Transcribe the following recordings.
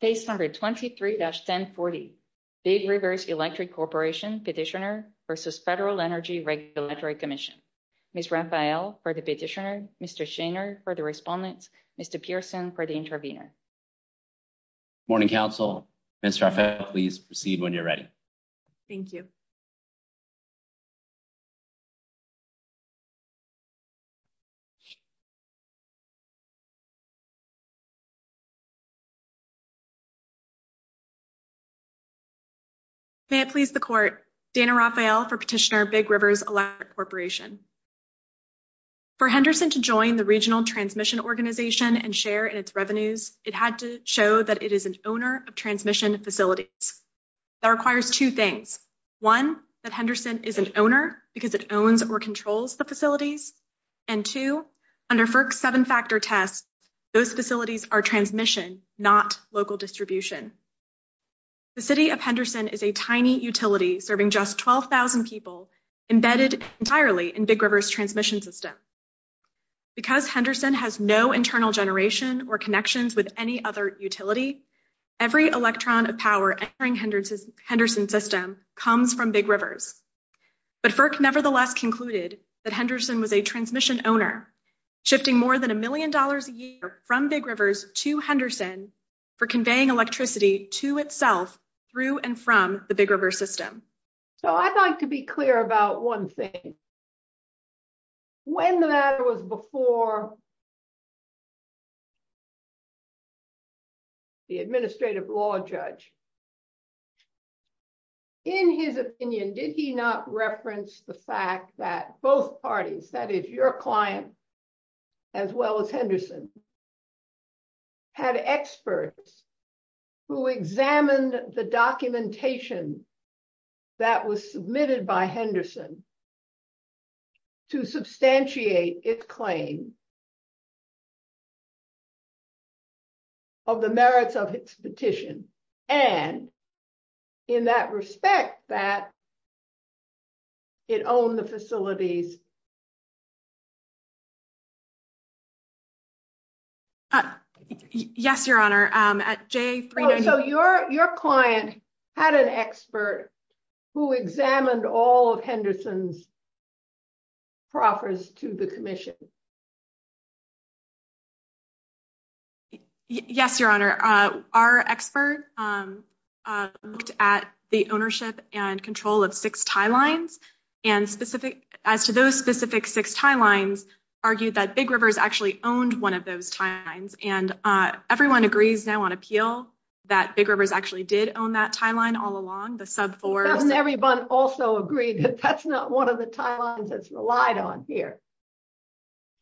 Page number 23-1040 Big Rivers Electric Corporation Petitioner versus Federal Energy Regulatory Commission. Ms. Raphael for the petitioner, Mr. Shaner for the respondent, Mr. Pearson for the intervener. Morning, Council. Ms. Raphael, please proceed when you're ready. Thank you. May it please the Court. Dana Raphael for petitioner, Big Rivers Electric Corporation. For Henderson to join the Regional Transmission Organization and share in its revenues, it had to show that it is an owner of transmission facilities. That requires two things. One, that Henderson is an owner because it owns or controls the facilities. Two, under FERC's seven-factor test, those facilities are transmission, not local distribution. The City of Henderson is a tiny utility serving just 12,000 people embedded entirely in Big Rivers' transmission system. Because Henderson has no internal generation or connections with any other utility, every electron of power entering Henderson's system comes from Big Rivers. But FERC nevertheless concluded that Henderson was a transmission owner, shifting more than a million dollars a year from Big Rivers to Henderson for conveying electricity to itself through and from the Big River system. So I'd like to be clear about one thing. When the matter was before the Administrative Law Judge, in his opinion, did he not reference the fact that both parties, that is, your client, as well as Henderson, had experts who examined the documentation that was submitted by Henderson to substantiate its claim of the merits of its petition? And in that respect, that it owned the facilities? Yes, Your Honor. Your client had an expert who examined all of Henderson's proffers to the Commission? Yes, Your Honor. Our expert looked at the ownership and control of six tie lines and specific, as to those specific six tie lines, argued that Big Rivers actually owned one of those tie lines. And everyone agrees now on appeal that Big Rivers actually did own that tie line all along, the sub fours. Doesn't everyone also agree that that's not one of the tie lines that's relied on here?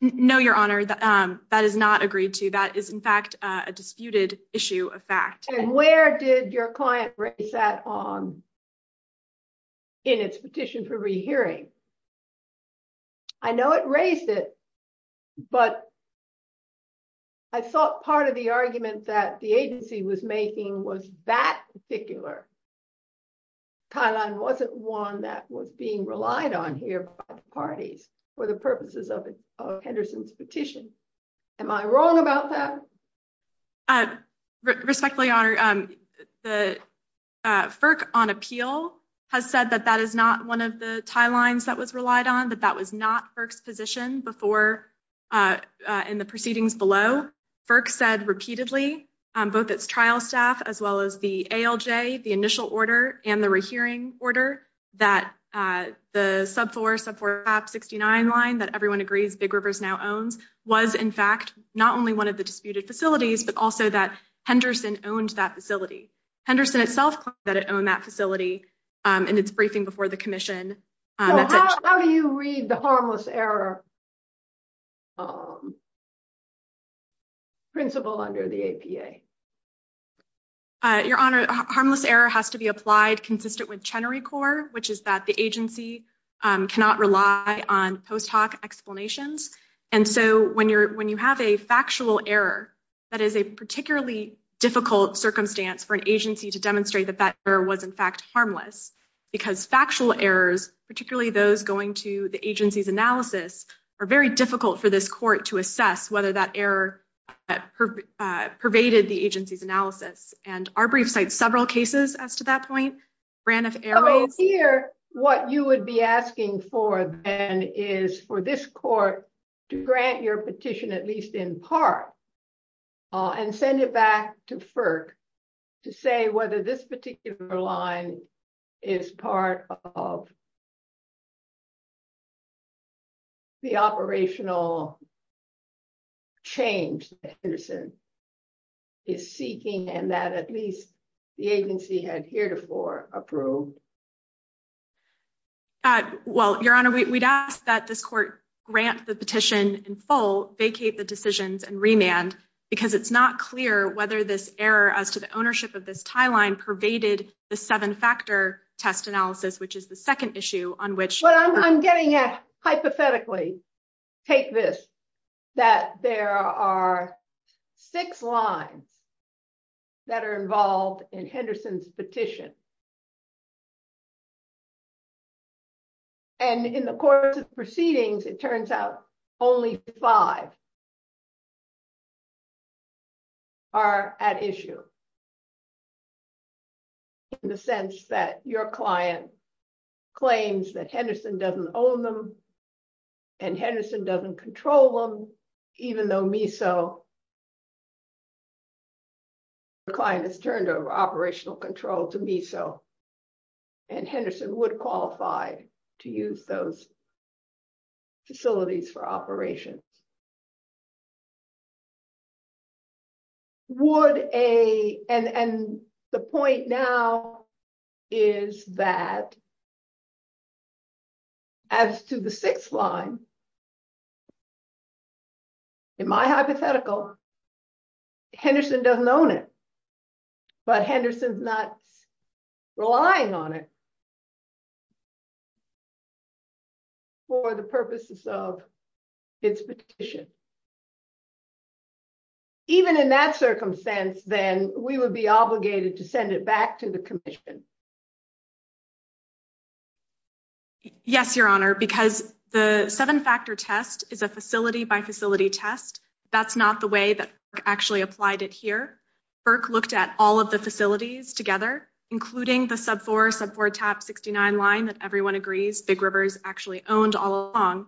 No, Your Honor, that is not agreed to. That is, in fact, a disputed issue of fact. And where did your client race that on in its petition for rehearing? I know it raised it, but I thought part of the argument that the agency was making was that particular tie line wasn't one that was being relied on here by the parties for the purposes of Henderson's petition. Am I wrong about that? Respectfully, Your Honor, the FERC on appeal has said that that is not one of the tie lines that was relied on, that that was not FERC's position before in the proceedings below. FERC said repeatedly, both its trial staff as well as the ALJ, the initial order and the 469 line that everyone agrees Big Rivers now owns was, in fact, not only one of the disputed facilities, but also that Henderson owned that facility. Henderson itself claimed that it owned that facility in its briefing before the commission. How do you read the harmless error principle under the APA? Your Honor, harmless error has to be applied consistent with Chenery Corps, which is that the agency cannot rely on post hoc explanations. And so when you have a factual error, that is a particularly difficult circumstance for an agency to demonstrate that that error was, in fact, harmless, because factual errors, particularly those going to the agency's analysis, are very difficult for this court to assess whether that error pervaded the agency's analysis. And our brief cites several cases as to that point. Brand of error is here. What you would be asking for then is for this court to grant your petition, at least in part, and send it back to FERC to say whether this particular line is part of. The operational. Change is seeking and that at least the agency had heretofore approved. Well, Your Honor, we'd ask that this court grant the petition in full, vacate the decisions and remand because it's not clear whether this error as to the ownership of this tie line pervaded the seven factor test analysis, which is the second issue on which I'm getting at. Hypothetically, take this that there are six lines that are involved in Henderson's petition. And in the course of proceedings, it turns out only five. Are at issue. In the sense that your client claims that Henderson doesn't own them and Henderson doesn't control them, even though MISO. The client is turned over operational control to MISO. And Henderson would qualify to use those. Facilities for operations. Would a and the point now is that. As to the sixth line. In my hypothetical. Henderson doesn't own it. But Henderson's not relying on it. For the purposes of its petition. Even in that circumstance, then we would be obligated to send it back to the commission. Yes, Your Honor, because the seven factor test is a facility by facility test. That's not the way that actually applied it here. Burke looked at all of the facilities together, including the sub four sub four top sixty nine line that everyone agrees Big Rivers actually owned all along.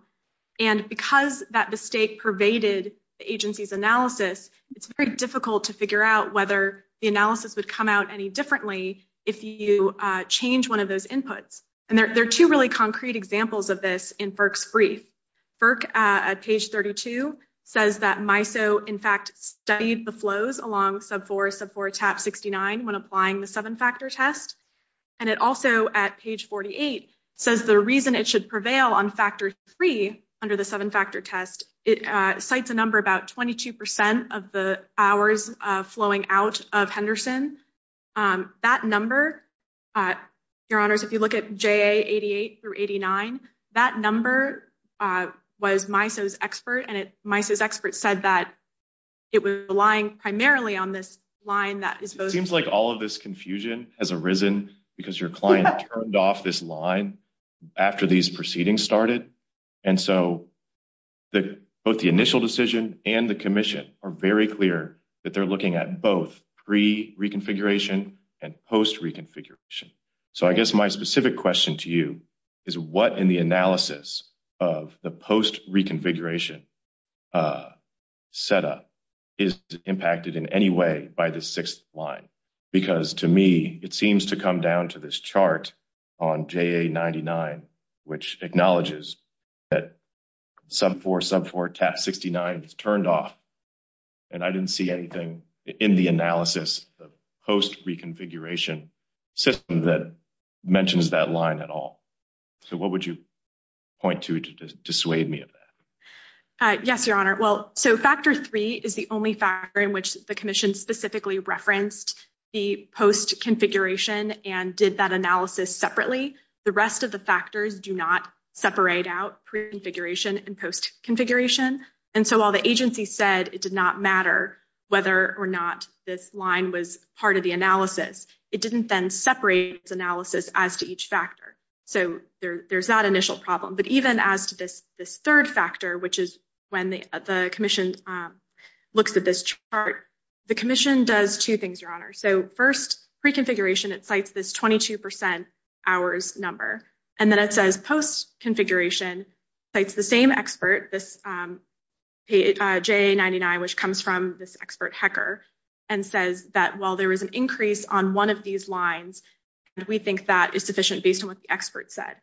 And because that mistake pervaded the agency's analysis, it's very difficult to figure out whether the analysis would come out any differently if you change one of those inputs. And there are two really concrete examples of this in Burke's brief. Burke at page thirty two says that MISO, in fact, studied the flows along sub four sub four top sixty nine when applying the seven factor test. And it also at page forty eight says the reason it should prevail on factor three under the seven factor test, it cites a number about 22 percent of the hours flowing out of Henderson. That number, Your Honors, if you look at J.A. eighty eight through eighty nine, that number was MISO's expert. And MISO's expert said that it was relying primarily on this line. Seems like all of this confusion has arisen because your client turned off this line after these proceedings started. And so the both the initial decision and the commission are very clear that they're looking at both pre reconfiguration and post reconfiguration. So I guess my specific question to you is what in the analysis of the post reconfiguration a setup is impacted in any way by the sixth line? Because to me, it seems to come down to this chart on J.A. ninety nine, which acknowledges that sub four sub four top sixty nine is turned off. And I didn't see anything in the analysis of post reconfiguration system that mentions that line at all. So what would you point to to dissuade me of that? Yes, Your Honor. Well, so factor three is the only factor in which the commission specifically referenced the post configuration and did that analysis separately. The rest of the factors do not separate out pre configuration and post configuration. And so while the agency said it did not matter whether or not this line was part of the analysis, it didn't then separate analysis as to each factor. So there's that initial problem. But even as to this, this third factor, which is when the commission looks at this chart, the commission does two things, Your Honor. So first, pre configuration, it cites this twenty two percent hours number and then it says post configuration, it's the same expert, this J.A. ninety nine, which comes from this expert hacker and says that while there is an increase on one of these lines, we think that is sufficient based on what the expert said.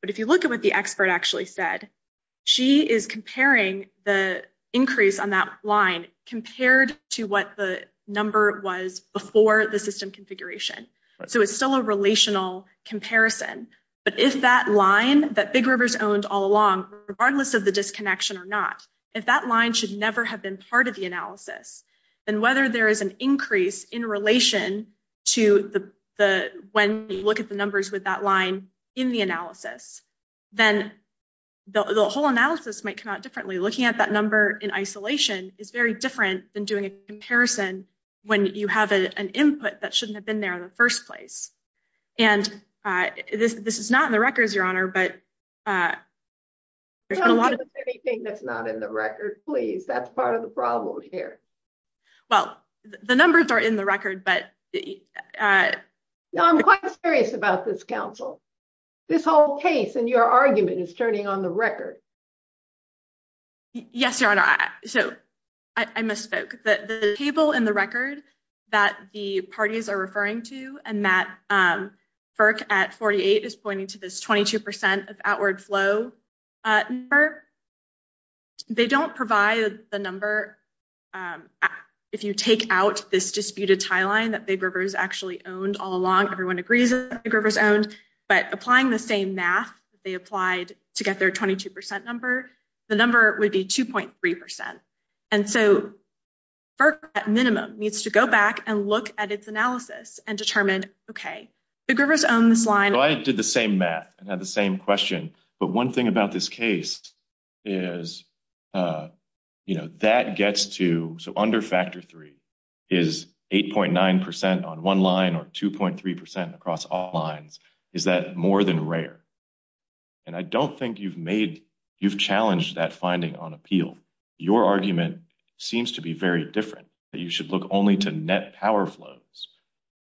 But if you look at what the expert actually said, she is comparing the increase on that line compared to what the number was before the system configuration. So it's still a relational comparison. But if that line that Big Rivers owned all along, regardless of the disconnection or not, if that line should never have been part of the analysis, then whether there is an isolation to the when you look at the numbers with that line in the analysis, then the whole analysis might come out differently. Looking at that number in isolation is very different than doing a comparison when you have an input that shouldn't have been there in the first place. And this is not in the records, Your Honor, but. But there's a lot of anything that's not in the record, please. That's part of the problem here. Well, the numbers are in the record, but. No, I'm quite serious about this, counsel. This whole case and your argument is turning on the record. Yes, Your Honor. So I misspoke that the table in the record that the parties are referring to and that FERC at 48 is pointing to this 22 percent of outward flow number. They don't provide the number. If you take out this disputed tie line that Big Rivers actually owned all along, everyone agrees that Big Rivers owned, but applying the same math they applied to get their 22 percent number, the number would be 2.3 percent. And so FERC, at minimum, needs to go back and look at its analysis and determine, OK, Big Rivers own this line. I did the same math and had the same question. But one thing about this case is, you know, that gets to so under factor three is 8.9 percent on one line or 2.3 percent across all lines. Is that more than rare? And I don't think you've made you've challenged that finding on appeal. Your argument seems to be very different that you should look only to net power flows.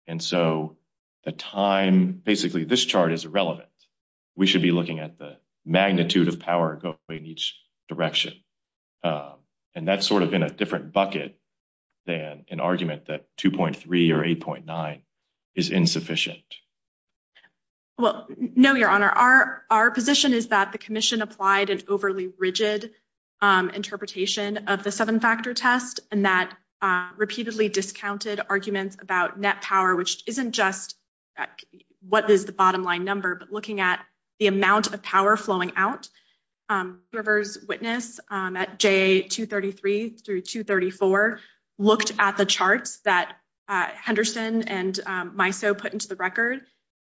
And so the time basically this chart is irrelevant. We should be looking at the magnitude of power in each direction. And that's sort of in a different bucket than an argument that 2.3 or 8.9 is insufficient. Well, no, your honor, our our position is that the commission applied an overly rigid interpretation of the seven factor test and that repeatedly discounted arguments about net power, which isn't just what is the bottom line number, but looking at the amount of power flowing out. Rivers witness at J233 through 234 looked at the charts that Henderson and Miso put into the record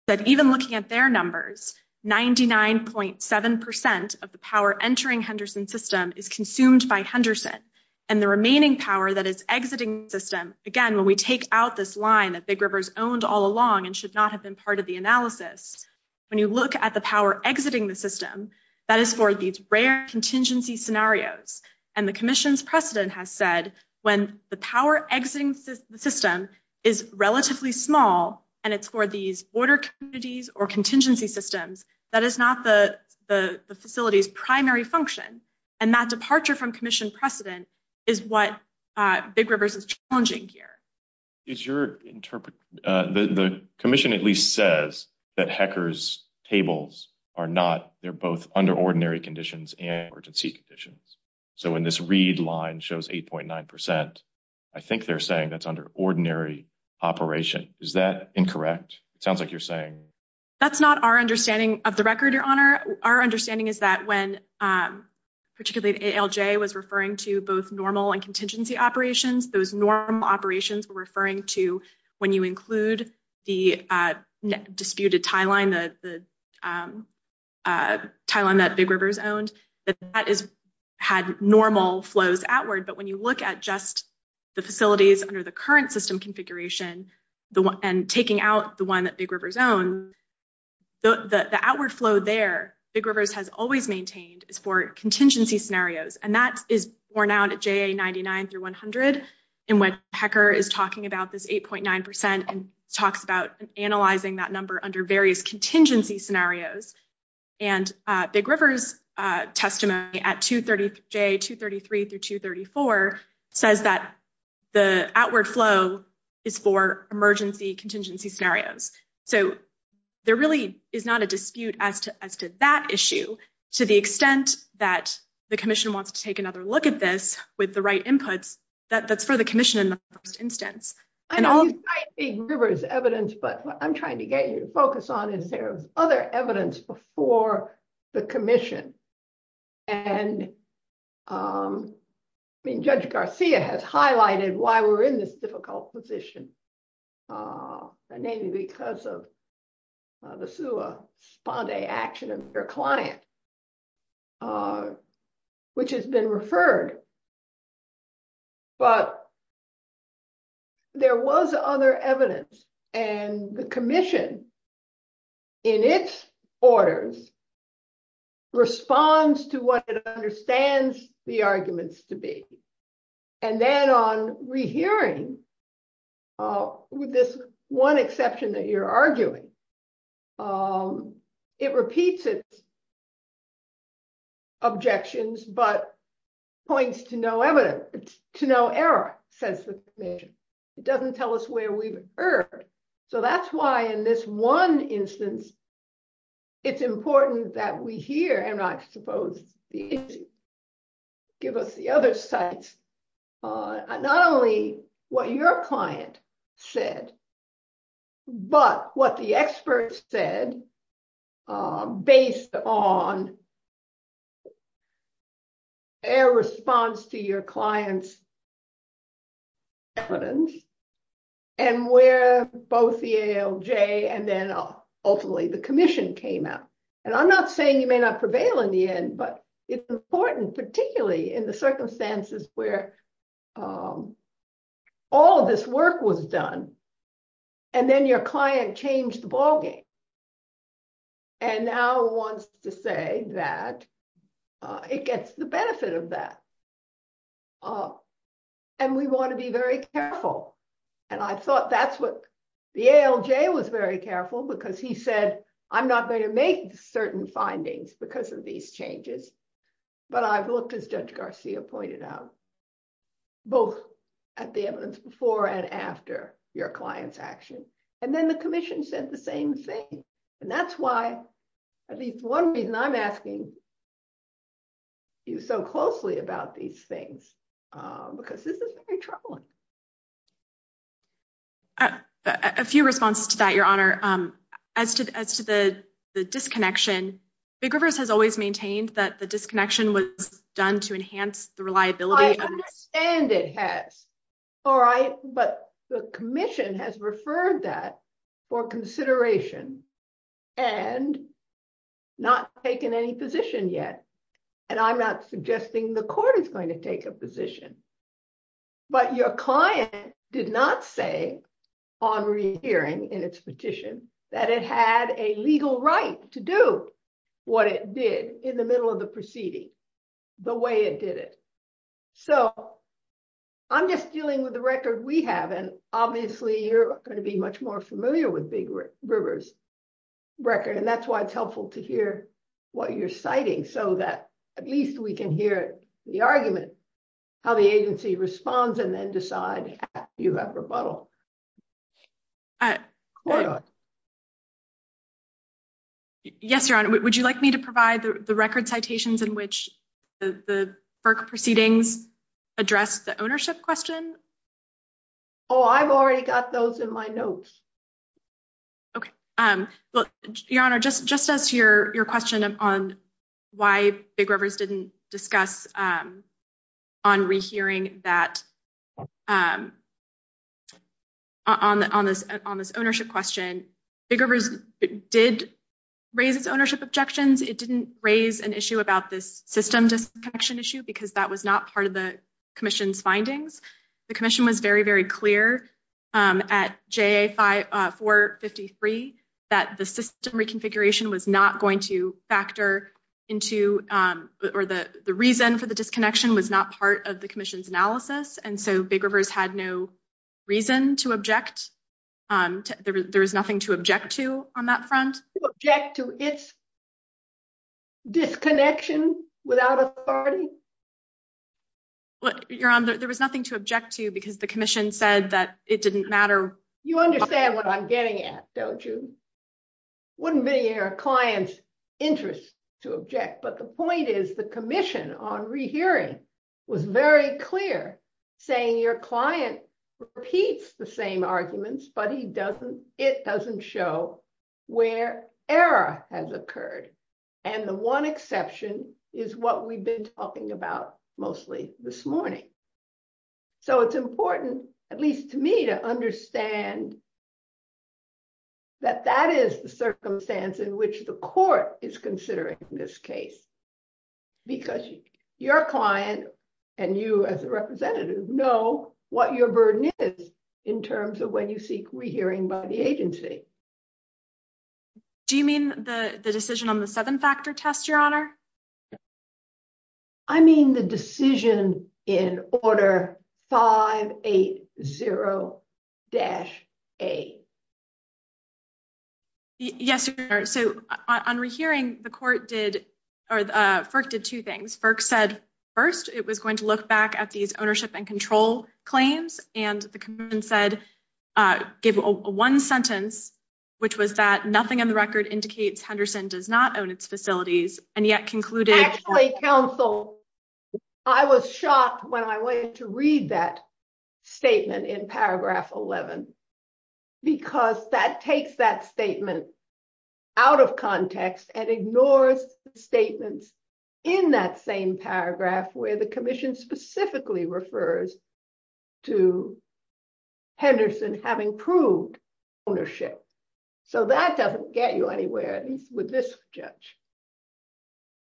that even looking at their numbers, 99.7 percent of the power entering Henderson system is consumed by Henderson and the remaining power that is exiting system. Again, when we take out this line that Big Rivers owned all along and should not have been part of the analysis, when you look at the power exiting the system, that is for these rare contingency scenarios. And the commission's precedent has said when the power exiting system is relatively small and it's for these border communities or contingency systems, that is not the facility's primary function. And that departure from commission precedent is what Big Rivers is challenging here. Is your interpret? The commission at least says that hackers tables are not. They're both under ordinary conditions and urgency conditions. So when this read line shows 8.9 percent, I think they're saying that's under ordinary operation. Is that incorrect? It sounds like you're saying that's not our understanding of the record. Our understanding is that when particularly L.J. was referring to both normal and contingency operations, those normal operations were referring to when you include the disputed tie line, the tie line that Big Rivers owned, that is had normal flows outward. But when you look at just the facilities under the current system configuration and taking out the one that Big Rivers own, the outward flow there, Big Rivers has always maintained is for contingency scenarios. And that is worn out at 99 through 100. And when HECR is talking about this 8.9 percent and talks about analyzing that number under various contingency scenarios and Big Rivers testimony at 233 through 234 says that the So there really is not a dispute as to that issue to the extent that the commission wants to take another look at this with the right inputs that's for the commission in the first instance. I know you cite Big Rivers' evidence, but what I'm trying to get you to focus on is there was other evidence before the commission. And Judge Garcia has highlighted why we're in this difficult position. And maybe because of the sua sponde action of their client, which has been referred. But there was other evidence and the commission in its orders responds to what it understands the arguments to be. And then on rehearing with this one exception that you're arguing, it repeats its objections, but points to no evidence, to no error, says the commission. It doesn't tell us where we've heard. So that's why in this one instance, it's important that we hear and I suppose give us the other insights, not only what your client said, but what the experts said based on their response to your client's evidence and where both the ALJ and then ultimately the commission came out. And I'm not saying you may not prevail in the end, but it's important, particularly in the circumstances where all of this work was done and then your client changed the ballgame. And now wants to say that it gets the benefit of that. And we want to be very careful. And I thought that's what the ALJ was very careful because he said, I'm not going to make certain findings because of these changes. But I've looked, as Judge Garcia pointed out, both at the evidence before and after your client's action. And then the commission said the same thing. And that's why at least one reason I'm asking you so closely about these things, because this is very troubling. A few responses to that, Your Honor. As to the disconnection, Big Rivers has always maintained that the disconnection was done to enhance the reliability. I understand it has. All right. But the commission has referred that for consideration and not taken any position yet. And I'm not suggesting the court is going to take a position. But your client did not say on re-hearing in its petition that it had a legal right to do what it did in the middle of the proceeding the way it did it. So I'm just dealing with the record we have. And obviously, you're going to be much more familiar with Big Rivers' record. And that's why it's helpful to hear what you're citing so that at least we can hear the argument, how the agency responds, and then decide if you have rebuttal. Yes, Your Honor. Would you like me to provide the record citations in which the FERC proceedings address the ownership question? Oh, I've already got those in my notes. Okay. Well, Your Honor, just as your question on why Big Rivers didn't discuss on re-hearing that on this ownership question, Big Rivers did raise its ownership objections. It didn't raise an issue about this system disconnection issue because that was not part of the commission's findings. The commission was very, very clear at JA-453 that the system reconfiguration was not going to factor into, or the reason for the disconnection was not part of the commission's analysis. And so Big Rivers had no reason to object. There was nothing to object to on that front. To object to its disconnection without authority? Your Honor, there was nothing to object to because the commission said that it didn't matter. You understand what I'm getting at, don't you? Wouldn't be in your client's interest to object. But the point is the commission on re-hearing was very clear, saying your client repeats the same arguments, but it doesn't show where error has occurred. And the one exception is what we've been talking about mostly this morning. So it's important, at least to me, to understand that that is the circumstance in which the court is considering this case because your client and you as a representative know what your burden is in terms of when you seek re-hearing by the agency. Do you mean the decision on the seven-factor test, Your Honor? I mean the decision in order 580-A. Yes, Your Honor. So on re-hearing, the court did, or FERC did two things. FERC said first it was going to look back at these ownership and control claims, and the commission said, gave one sentence, which was that nothing in the record indicates Henderson does not own its facilities, and yet concluded- Actually, counsel, I was shocked when I went to read that statement in paragraph 11 because that takes that statement out of context and ignores the statements in that same paragraph where the commission specifically refers to Henderson having proved ownership. So that doesn't get you anywhere, at least with this judge.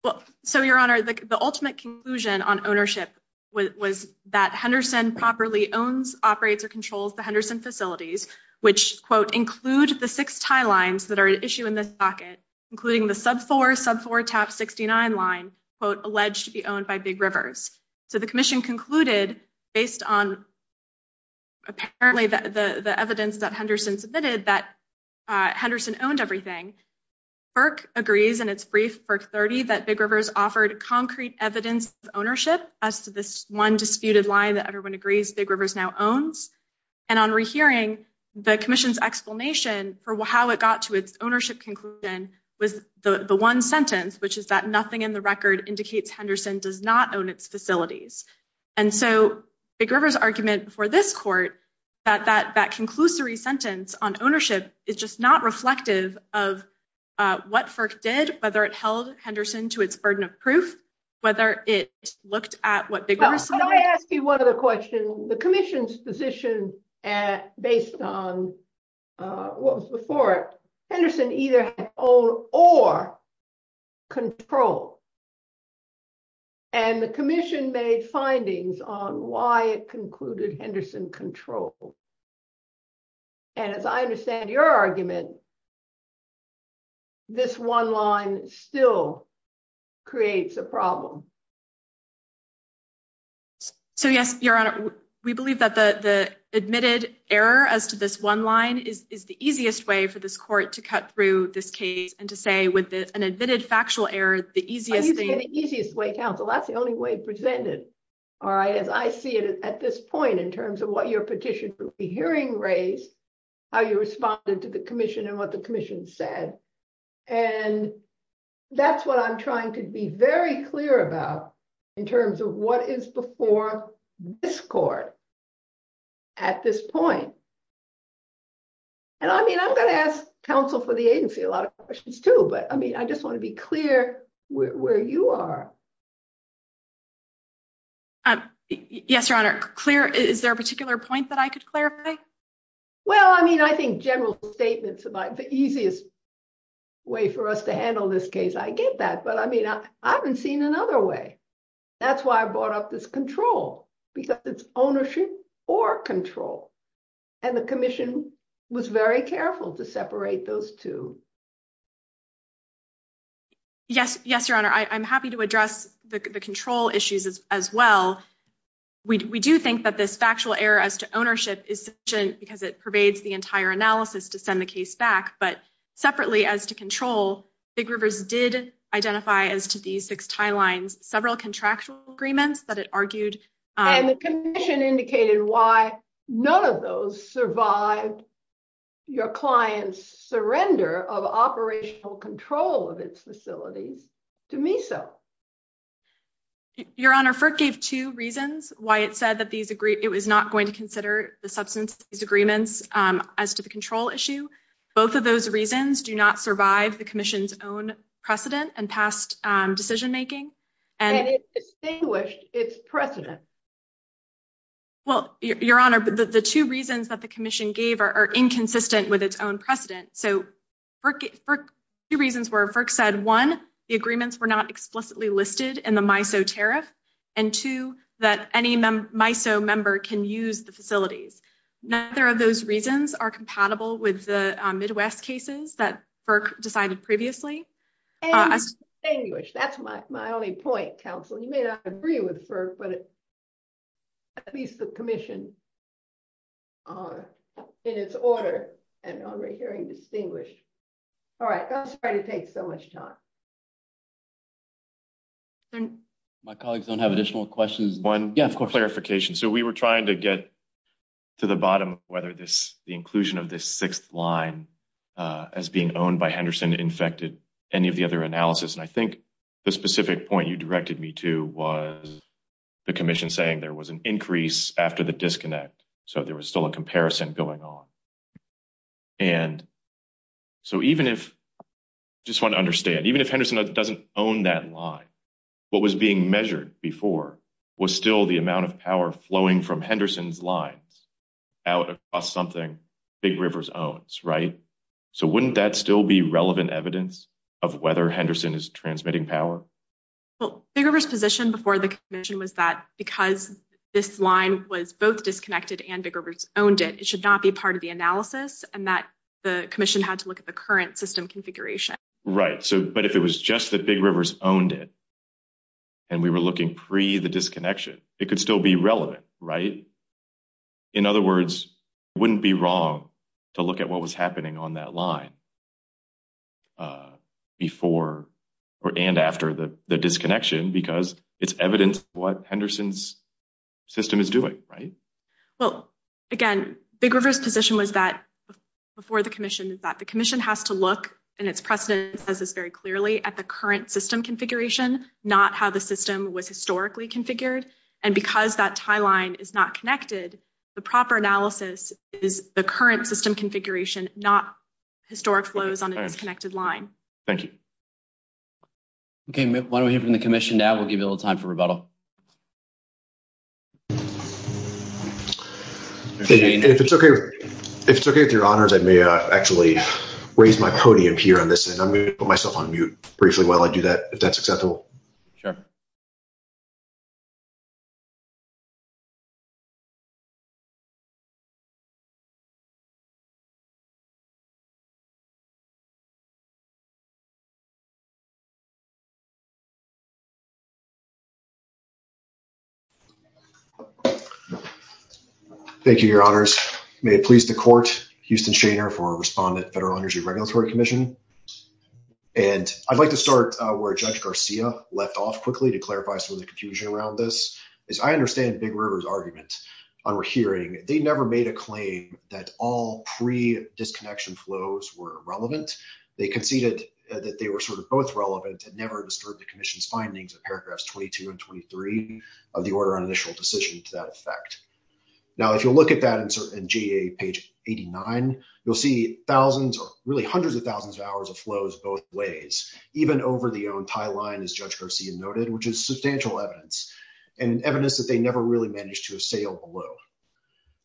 Well, so Your Honor, the ultimate conclusion on ownership was that Henderson properly owns, operates, or controls the Henderson facilities, which, quote, include the six tie lines that are at issue in this docket, including the sub-4, sub-4, tab 69 line, quote, alleged to be owned by Big Rivers. So the commission concluded, based on apparently the evidence that Henderson submitted, that Henderson owned everything. FERC agrees in its brief, FERC-30, that Big Rivers offered concrete evidence of ownership as to this one disputed line that everyone agrees Big Rivers now owns. And on rehearing, the commission's explanation for how it got to its ownership conclusion was the one sentence, which is that nothing in the record indicates Henderson does not own its facilities. And so Big Rivers' argument for this court, that that conclusory sentence on ownership is just not reflective of what FERC did, whether it held Henderson to its burden of proof, whether it looked at what Big Rivers- Let me ask you one other question. The commission's position based on what was before it, Henderson either had to own or control. And the commission made findings on why it concluded Henderson controlled. And as I understand your argument, this one line still creates a problem. So yes, Your Honor, we believe that the admitted error as to this one line is the easiest way for this court to cut through this case and to say with an admitted factual error, the easiest thing- I think it's the easiest way, counsel. That's the only way presented, all right? As I see it at this point, in terms of what your petition for rehearing raised, how you responded to the commission and what the commission said. And that's what I'm trying to be very clear about in terms of what is before this court at this point. And I mean, I'm going to ask counsel for the agency a lot of questions too, but I mean, I just want to be clear where you are. Yes, Your Honor, clear. Is there a particular point that I could clarify? Well, I mean, I think general statements about the easiest way for us to handle this case, I get that, but I mean, I haven't seen another way. That's why I brought up this control, because it's ownership or control. And the commission was very careful to separate those two. Yes, Your Honor, I'm happy to address the control issues as well. We do think that this factual error as to ownership is sufficient because it pervades the entire analysis to send the case back, but separately as to control, Big Rivers did identify as to these six timelines, several contractual agreements that it argued. And the commission indicated why none of those survived your client's surrender of operational control of its facilities, to me so. Your Honor, FERC gave two reasons why it said that it was not going to consider the substance of these agreements as to the control issue. Both of those reasons do not survive the commission's own precedent and past decision making. And it distinguished its precedent. Well, Your Honor, the two reasons that the commission gave are inconsistent with its own precedent. So, two reasons where FERC said, one, the agreements were not explicitly listed in the MISO tariff, and two, that any MISO member can use the facilities. Neither of those reasons are compatible with the Midwest cases that FERC decided previously. And distinguished. That's my only point, counsel. You may not agree with FERC, but at least the commission, in its order and on the hearing distinguished. All right. I'm sorry to take so much time. My colleagues don't have additional questions. One clarification. So, we were trying to get to the bottom of whether the inclusion of this sixth line as being owned by Henderson infected any of the other analysis. And I think the specific point you directed me to was the commission saying there was an increase after the disconnect. So, there was still a comparison going on. And so, even if, I just want to understand, even if Henderson doesn't own that line, what was being measured before was still the amount of power flowing from Henderson's lines out across something Big Rivers owns, right? So, wouldn't that still be relevant evidence of whether Henderson is transmitting power? Well, Big Rivers' position before the commission was that because this line was both and that the commission had to look at the current system configuration. Right. So, but if it was just that Big Rivers owned it and we were looking pre the disconnection, it could still be relevant, right? In other words, wouldn't be wrong to look at what was happening on that line before or and after the disconnection because it's evidence of what Henderson's system is doing, right? Well, again, Big Rivers' position was that before the commission is that the commission has to look, and its precedent says this very clearly, at the current system configuration, not how the system was historically configured. And because that tie line is not connected, the proper analysis is the current system configuration, not historic flows on a disconnected line. Thank you. Okay, why don't we hear from the commission now? We'll give you a little time for rebuttal. Okay, if it's okay, if it's okay with your honors, I may actually raise my podium here on this and I'm going to put myself on mute briefly while I do that, if that's acceptable. Sure. Thank you, your honors. May it please the court, Houston Shaner for Respondent Federal Energy Regulatory Commission. And I'd like to start where Judge Garcia left off quickly to clarify some of the confusion around this. As I understand Big Rivers' argument on our hearing, they never made a claim that all pre-disconnection flows were relevant. They conceded that they were sort of both relevant and never disturbed the commission's findings of paragraphs 22 and 23 of the order on initial decision to that effect. Now, if you'll look at that in GA page 89, you'll see thousands or really hundreds of hours of flows both ways, even over the own tie line, as Judge Garcia noted, which is substantial evidence and evidence that they never really managed to assail below.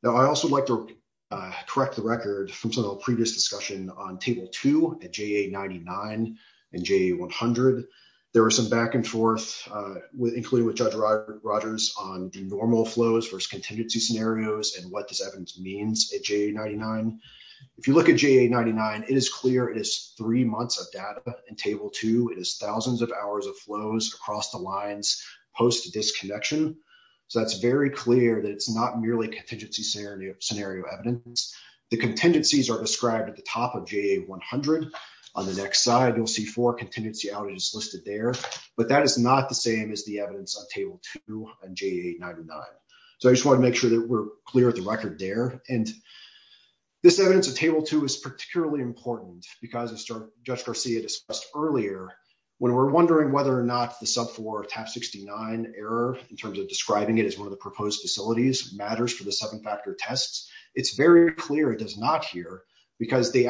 Now, I also like to correct the record from some of the previous discussion on table two at GA 99 and GA 100. There were some back and forth with including with Judge Rogers on the normal flows versus contingency scenarios and what this evidence means at GA 99. If you look at GA 99, it is clear it is three months of data in table two. It is thousands of hours of flows across the lines post disconnection. So, that's very clear that it's not merely contingency scenario evidence. The contingencies are described at the top of GA 100. On the next side, you'll see four contingency outages listed there, but that is not the same as the evidence on table two and GA 99. So, I just want to make sure that we're clear with the record there. And this evidence of table two is particularly important because, as Judge Garcia discussed earlier, when we're wondering whether or not the sub four TAP 69 error, in terms of describing it as one of the proposed facilities, matters for the seven-factor tests, it's very clear it does not here because Big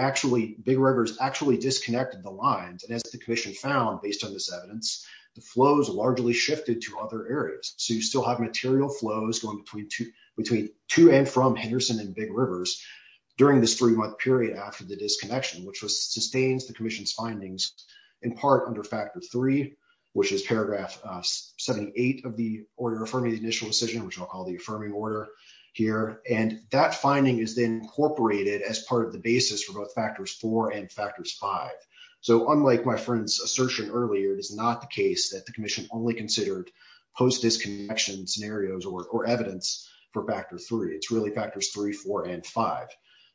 Rivers actually disconnected the lines. And as the commission found, based on this evidence, the flows largely shifted to other areas. So, you still have material flows going between to and from Henderson and Big Rivers during this three-month period after the disconnection, which sustains the commission's findings in part under factor three, which is paragraph 78 of the order affirming the initial decision, which I'll call the affirming order here. And that finding is then incorporated as part of the basis for both factors four and factors five. So, unlike my friend's assertion earlier, it is not the case that the commission only considered post-disconnection scenarios or evidence for factor three. It's really factors three, four, and five.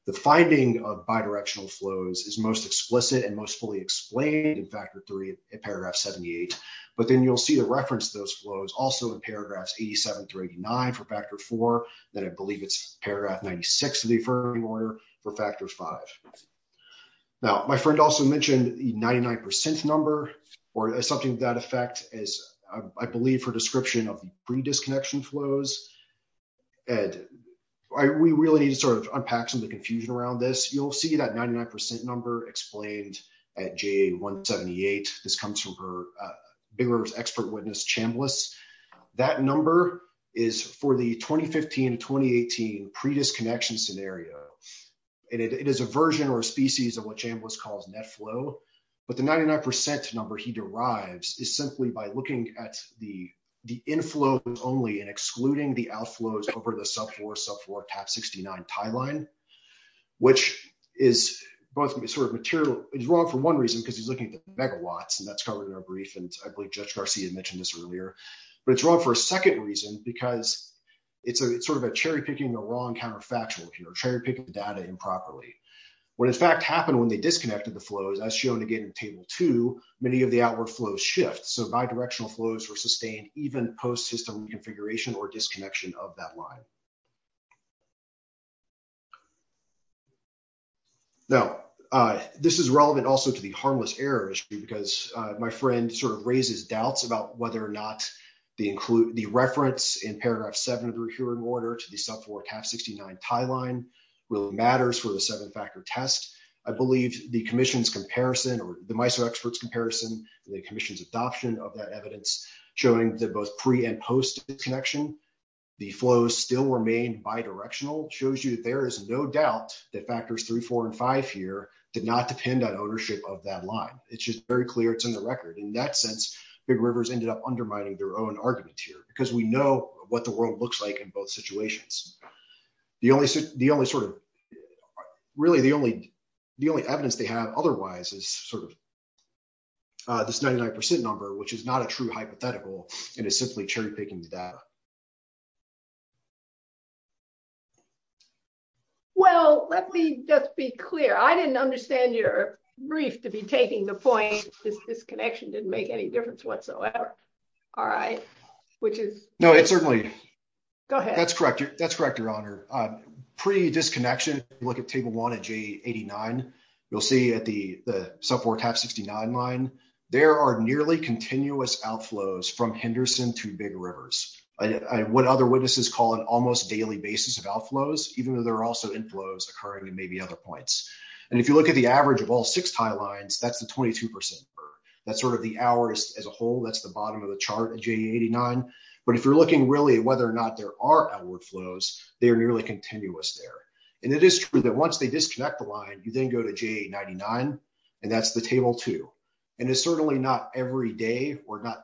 The finding of bidirectional flows is most explicit and most fully explained in factor three in paragraph 78. But then you'll see the reference to those flows also in paragraphs 87 through 89 for factor four, then I believe it's paragraph 96 of the affirming order for factor five. Now, my friend also mentioned the 99% number or something to that effect as I believe for description of pre-disconnection flows. And we really need to sort of unpack some of the confusion around this. You'll see that 99% number explained at JA 178. This comes from Big Rivers expert witness Chambliss. That number is for the 2015 to 2018 pre-disconnection scenario. And it is a version or a species of what Chambliss calls net flow. But the 99% number he derives is simply by looking at the inflow only and excluding the outflows over the sub-floor, sub-floor, top 69 tie line, which is both sort of material, is wrong for one reason, because he's looking at the megawatts and that's covered in our brief. And I believe Judge Garcia mentioned this earlier, but it's wrong for a second reason because it's sort of a cherry picking the wrong counterfactual here. Cherry picking the data improperly. What in fact happened when they disconnected the flows as shown again in table two, many of the outward flows shift. So bi-directional flows were sustained even post-system configuration or disconnection of that line. Now, this is relevant also to the harmless errors because my friend sort of raises doubts about whether or not the reference in paragraph seven of the recurring order to the sub-floor 69 tie line really matters for the seven factor test. I believe the commission's comparison or the MISO experts comparison, the commission's adoption of that evidence showing that both pre and post connection, the flows still remain bi-directional shows you that there is no doubt that factors three, four, and five here did not depend on ownership of that line. It's just very clear. It's in the record. In that sense, big rivers ended up undermining their own argument here because we know what the world looks like in both situations. The only sort of really the only evidence they have otherwise is sort of this 99% number, which is not a true hypothetical and is simply cherry picking the data. Well, let me just be clear. I didn't understand your brief to be taking the point that this connection didn't make any difference whatsoever. All right, which is- No, it's certainly- Go ahead. That's correct. That's correct, your honor. Pre-disconnection, if you look at table one at J89, you'll see at the sub four TAP69 line, there are nearly continuous outflows from Henderson to big rivers. What other witnesses call an almost daily basis of outflows, even though there are also inflows occurring at maybe other points. And if you look at the average of all six tie lines, that's the 22% number. That's sort of the hours as a whole. That's the bottom of the chart at J89. But if you're looking really at whether or not there are outward flows, they are nearly continuous there. And it is true that once they disconnect the line, you then go to J99, and that's the table two. And it's certainly not every day or not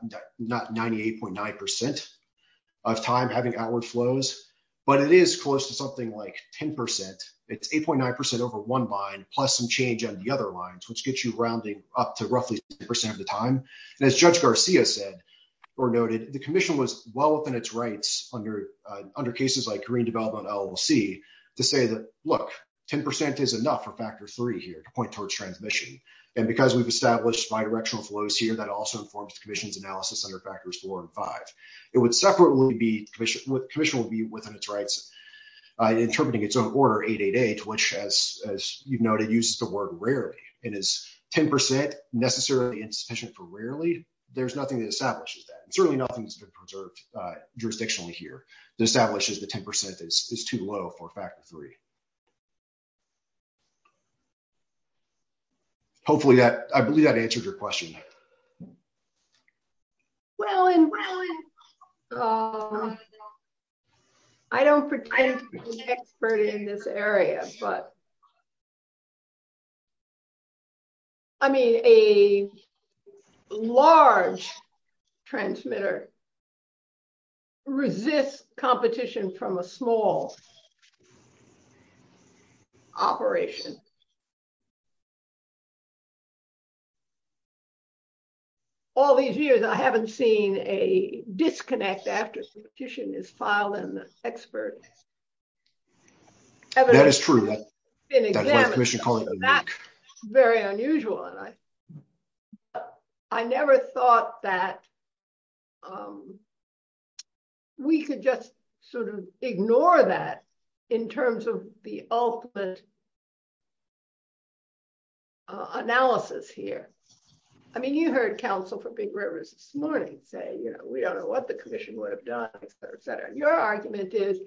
98.9% of time having outward flows, but it is close to something like 10%. It's 8.9% over one line, plus some change on the other lines, which gets you rounding up to roughly 10% of the time. And as Judge Garcia said or noted, the commission was well within its rights under cases like green development LLC to say that, look, 10% is enough for factor three here to point towards transmission. And because we've established bidirectional flows here, that also informs the commission's analysis under factors four and five. It would separately be, the commission would be within its rights interpreting its own order 888, which as you've noted, uses the word rarely. And is 10% necessarily insufficient for rarely? There's nothing that establishes that. And certainly nothing that's been preserved jurisdictionally here that establishes the 10% is too low for factor three. Hopefully that, I believe that answered your question. Well, I don't pretend to be an expert in this area, but I mean, a large transmitter resists competition from a small operation. All these years, I haven't seen a disconnect after the petition is filed and the expert. That is true. Very unusual. I never thought that we could just sort of ignore that in terms of the ultimate analysis here. I mean, you heard counsel for big rivers this morning say, you know, we don't know what the commission would have done, et cetera, et cetera. Your argument is,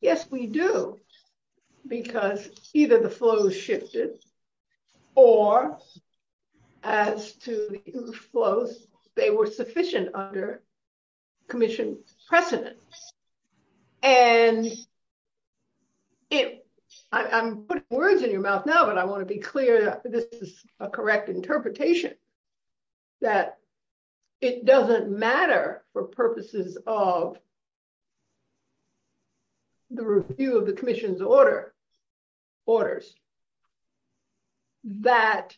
yes, we do because either the flow shifted or as to flows, they were sufficient under commission precedent. And I'm putting words in your mouth now, but I want to be clear that this is a correct interpretation that it doesn't matter for purposes of the review of the commission's order orders that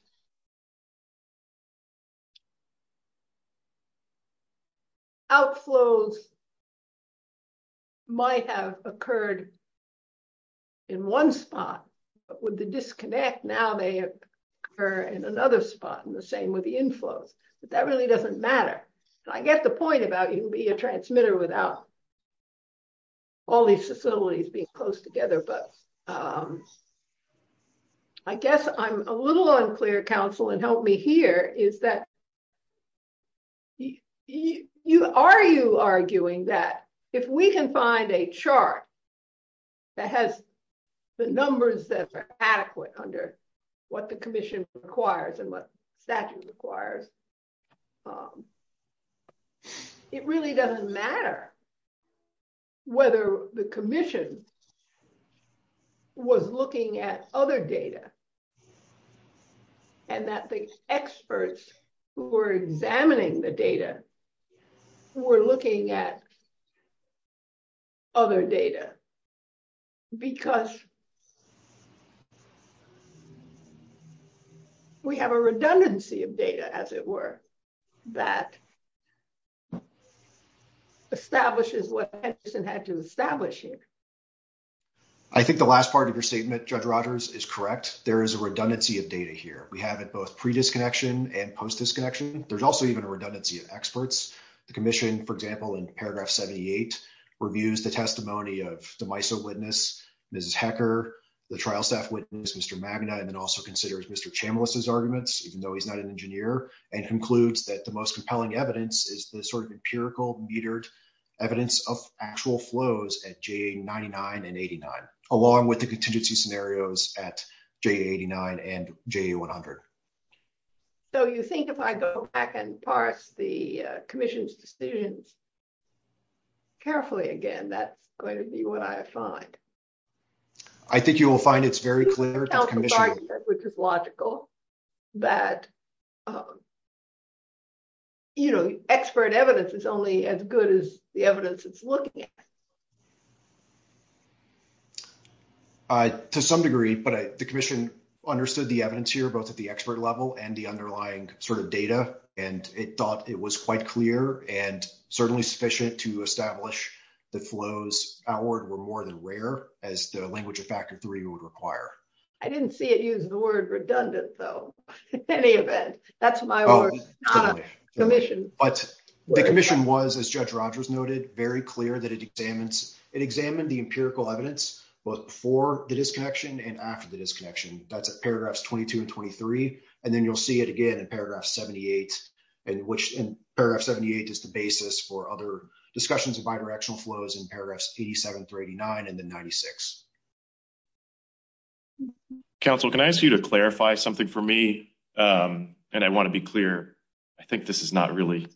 outflows might have occurred in one spot with the disconnect. Now they occur in another spot and the same with the inflows, but that really doesn't matter. I get the point about you can be a transmitter without all these facilities being close together. But I guess I'm a little unclear counsel and help me here is that are you arguing that if we can find a chart that has the numbers that are adequate under what the commission requires and what statute requires, it really doesn't matter whether the commission was looking at other data and that the experts who were examining the data were looking at other data because we have a redundancy of data, as it were, that establishes what Edison had to establish here. I think the last part of your statement, Judge Rogers, is correct. There is a redundancy of data here. We have it both pre-disconnection and post-disconnection. There's also even a redundancy of experts. The commission, for example, in paragraph 78, reviews the testimony of the MISO witness, Mrs. Hecker, the trial staff witness, Mr. Magna, and then also considers Mr. Chambliss's arguments, even though he's not an engineer, and concludes that the most compelling evidence is the sort of empirical, metered evidence of actual flows at JA99 and 89, along with the contingency scenarios at JA89 and JA100. So you think if I go back and parse the commission's decisions carefully again, that's going to be what I find? I think you will find it's very clear to the commission. It's logical that expert evidence is only as good as the evidence it's looking at. To some degree, but the commission understood the evidence here, both at the expert level and the underlying data, and it thought it was quite clear and certainly sufficient to establish the flows outward were more than rare, as the language of Factor III would require. I didn't see it use the word redundant, though, in any event. That's my word, not a commission. But the commission was, as Judge Rogers noted, very clear that it examined the empirical evidence, both before the disconnection and after the disconnection. That's at paragraphs 22 and 23. And then you'll see it again in paragraph 78, in which paragraph 78 is the basis for other discussions of bidirectional flows in paragraphs 87 through 89 and then 96. Counsel, can I ask you to clarify something for me? And I want to be clear, I think this is not really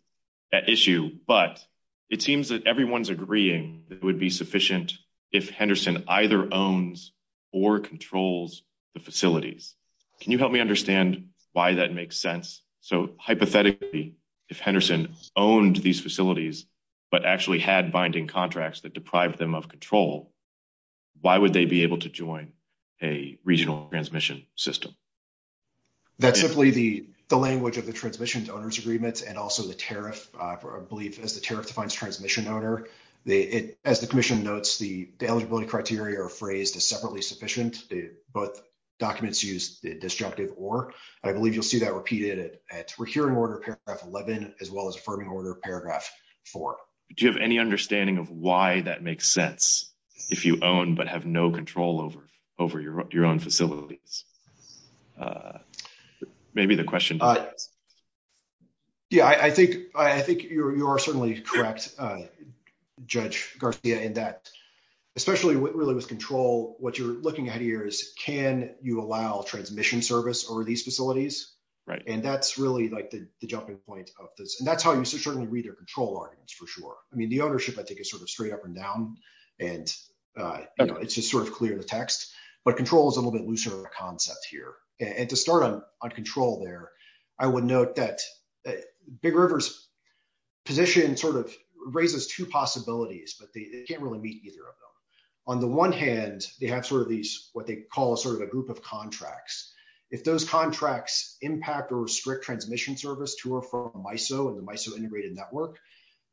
an issue, but it seems that everyone's agreeing that it would be sufficient if Henderson either owns or controls the facilities. Can you help me understand why that makes sense? So hypothetically, if Henderson owned these facilities, but actually had binding contracts that deprived them of control, why would they be able to join a regional transmission system? That's simply the language of the Transmission to Owners Agreement and also the tariff, I believe, as the tariff defines transmission owner. As the commission notes, the eligibility criteria are phrased as separately sufficient. Both documents use the disjunctive or. I believe you'll see that repeated at hearing order paragraph 11, as well as affirming order paragraph 4. Do you have any understanding of why that makes sense if you own but have no control over your own facilities? Maybe the question. Yeah, I think you are certainly correct, Judge Garcia, in that, especially really with control, what you're looking at here is, can you allow transmission service over these facilities? Right. And that's really like the jumping point of this. That's how you certainly read their control arguments, for sure. I mean, the ownership, I think, is sort of straight up and down, and it's just sort of clear the text. But control is a little bit looser concept here. And to start on control there, I would note that Big River's position sort of raises two possibilities, but they can't really meet either of them. On the one hand, they have sort of these what they call sort of a group of contracts. If those contracts impact or restrict transmission service to or from MISO and the MISO integrated network,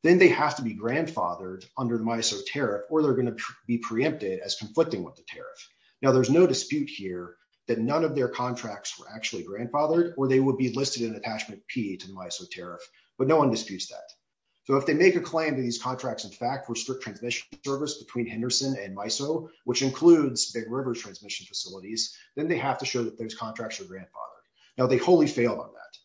then they have to be grandfathered under the MISO tariff, or they're going to be preempted as conflicting with the tariff. Now, there's no dispute here that none of their contracts were actually grandfathered, or they would be listed in attachment P to the MISO tariff, but no one disputes that. So if they make a claim that these contracts, in fact, restrict transmission service between Henderson and MISO, which includes Big River's transmission facilities, then they have to make sure that those contracts are grandfathered. Now, they wholly failed on that.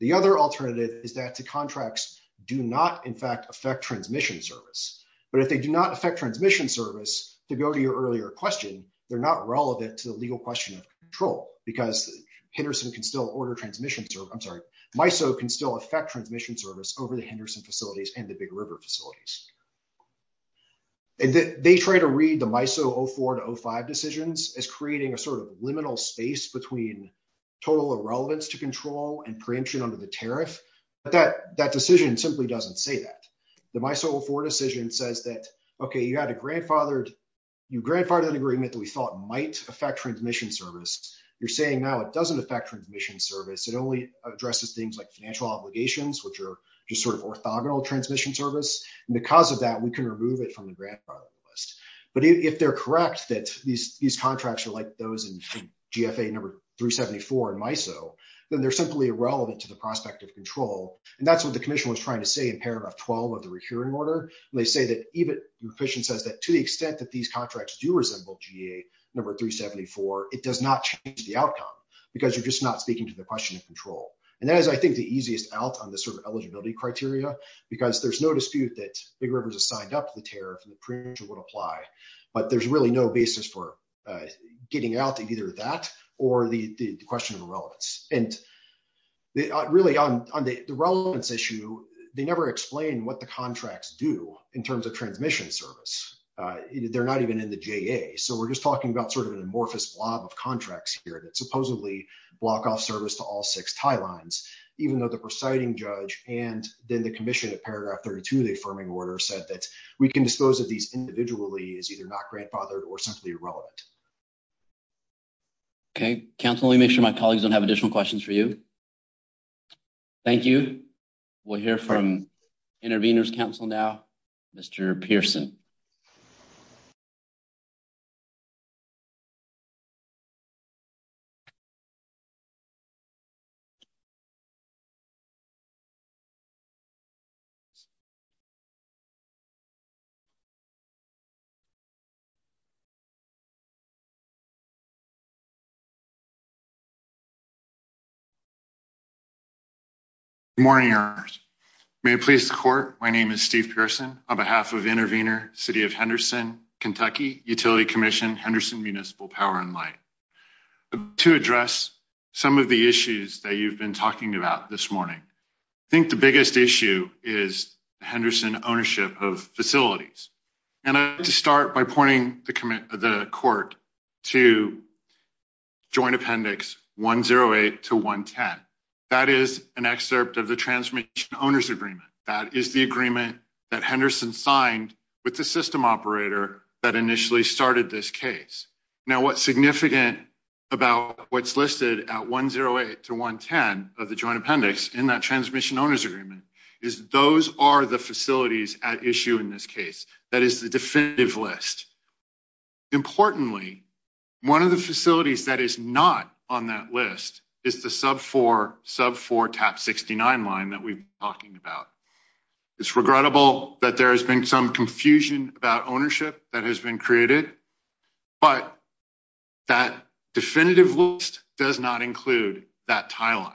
The other alternative is that the contracts do not, in fact, affect transmission service. But if they do not affect transmission service, to go to your earlier question, they're not relevant to the legal question of control, because MISO can still affect transmission service over the Henderson facilities and the Big River facilities. And they try to read the MISO 04 to 05 decisions as creating a sort of liminal space between total irrelevance to control and preemption under the tariff. But that decision simply doesn't say that. The MISO 04 decision says that, okay, you had a grandfathered, you grandfathered an agreement that we thought might affect transmission service. You're saying now it doesn't affect transmission service. It only addresses things like financial obligations, which are just sort of orthogonal transmission service. And because of that, we can remove it from the grandfathered list. But if they're correct that these contracts are like those in GFA number 374 in MISO, then they're simply irrelevant to the prospect of control. And that's what the commission was trying to say in paragraph 12 of the recurring order. They say that to the extent that these contracts do resemble GA number 374, it does not change the outcome, because you're just not speaking to the question of control. And that is, I think, the easiest out on the sort of eligibility criteria, because there's no dispute that Big Rivers has signed up to the tariff and the preemption would apply. But there's really no basis for getting out of either that or the question of irrelevance. And really, on the relevance issue, they never explain what the contracts do in terms of transmission service. They're not even in the GA. So we're just talking about sort of an amorphous blob of contracts here that supposedly block off service to all six tie lines, even though the presiding judge and then the commission in paragraph 32 of the affirming order said that we can dispose of these individually as either not grandfathered or simply irrelevant. Okay. Council, let me make sure my colleagues don't have additional questions for you. Thank you. We'll hear from Intervenors Council now. Mr. Pearson. Good morning, may it please the court. My name is Steve Pearson on behalf of Intervenor City of Henderson, Kentucky Utility Commission, Henderson Municipal Power and Light. To address some of the issues that you've been talking about this morning. I think the biggest issue is Henderson ownership of facilities. And to start by pointing the court to Joint Appendix 108 to 110. That is an excerpt of the Transmission Owners Agreement. That is the agreement that Henderson signed with the system operator that initially started this case. Now, what's significant about what's listed at 108 to 110 of the Joint Appendix in that Transmission Owners Agreement is those are the facilities at issue in this case. That is the definitive list. Importantly, one of the facilities that is not on that list is the sub four sub four tap 69 line that we've been talking about. It's regrettable that there has been some confusion about ownership that has been created. But that definitive list does not include that tie line.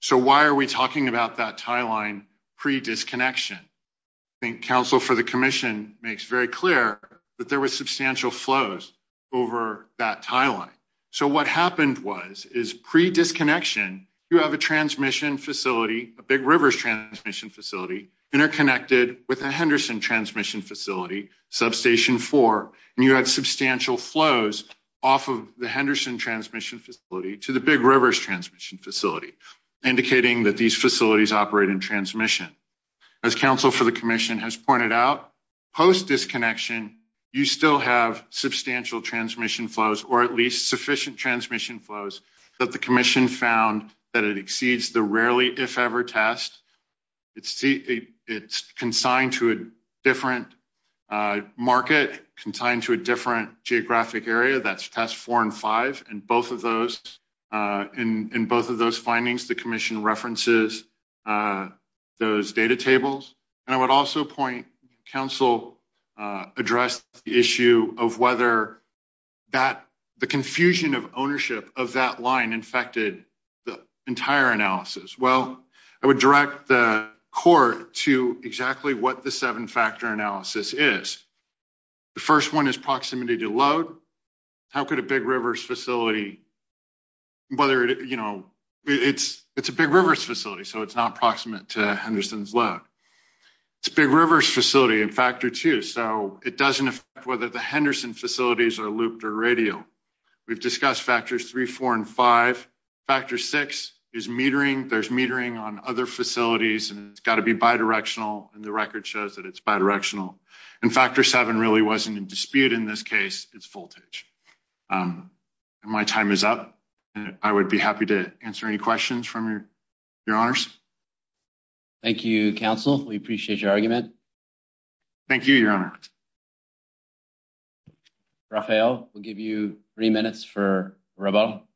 So why are we talking about that tie line pre disconnection? I think counsel for the commission makes very clear that there was substantial flows over that tie line. So what happened was is pre disconnection. You have a transmission facility, a big rivers transmission facility interconnected with substantial flows off of the Henderson transmission facility to the big rivers transmission facility, indicating that these facilities operate in transmission. As counsel for the commission has pointed out, post disconnection, you still have substantial transmission flows, or at least sufficient transmission flows that the commission found that it exceeds the rarely if ever test. It's it's consigned to a different market consigned to a different geographic area that's test four and five and both of those in both of those findings, the commission references those data tables. And I would also point counsel address the issue of whether that the confusion of ownership of that line infected the entire analysis. Well, I would direct the court to exactly what the seven factor analysis is. The first one is proximity to load. How could a big rivers facility? Whether, you know, it's it's a big rivers facility. So it's not proximate to Henderson's load. It's big rivers facility in factor two. So it doesn't affect whether the Henderson facilities are looped or radial. We've discussed factors three, four and five. Factor six is metering. There's metering on other facilities and it's got to be bidirectional. And the record shows that it's bidirectional. And factor seven really wasn't in dispute. In this case, it's voltage. My time is up. I would be happy to answer any questions from your, your honors. Thank you, counsel. We appreciate your argument. Thank you, your honor. Rafael, we'll give you three minutes for Robo. Thank you.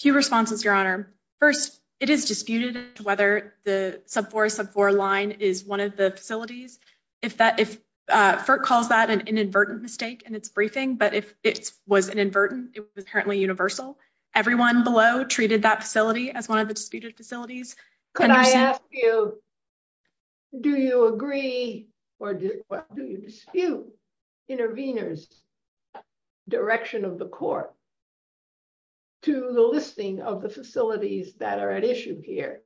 Few responses, your honor. First, it is disputed whether the sub four sub four line is one of the facilities. If that if FERC calls that an inadvertent mistake and it's briefing, but if it was inadvertent, it was apparently universal. Everyone below treated that facility as one of the disputed facilities. Could I ask you, do you agree or do you dispute intervenors direction of the court to the listing of the facilities that are at issue here,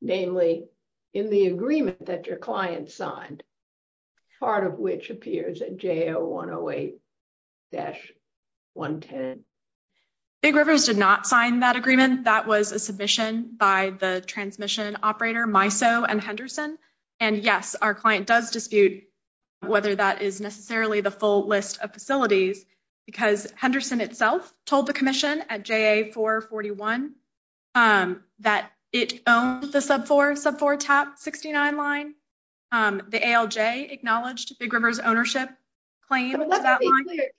namely, in the agreement that your client signed? Part of which appears at jail 108 dash 110. Big rivers did not sign that agreement. That was a submission by the transmission operator, my so and Henderson. And yes, our client does dispute whether that is necessarily the full list of facilities. Because Henderson itself told the commission at J.A. 441 that it owns the sub four sub four top 69 line. The A.L.J. acknowledged Big Rivers ownership claim.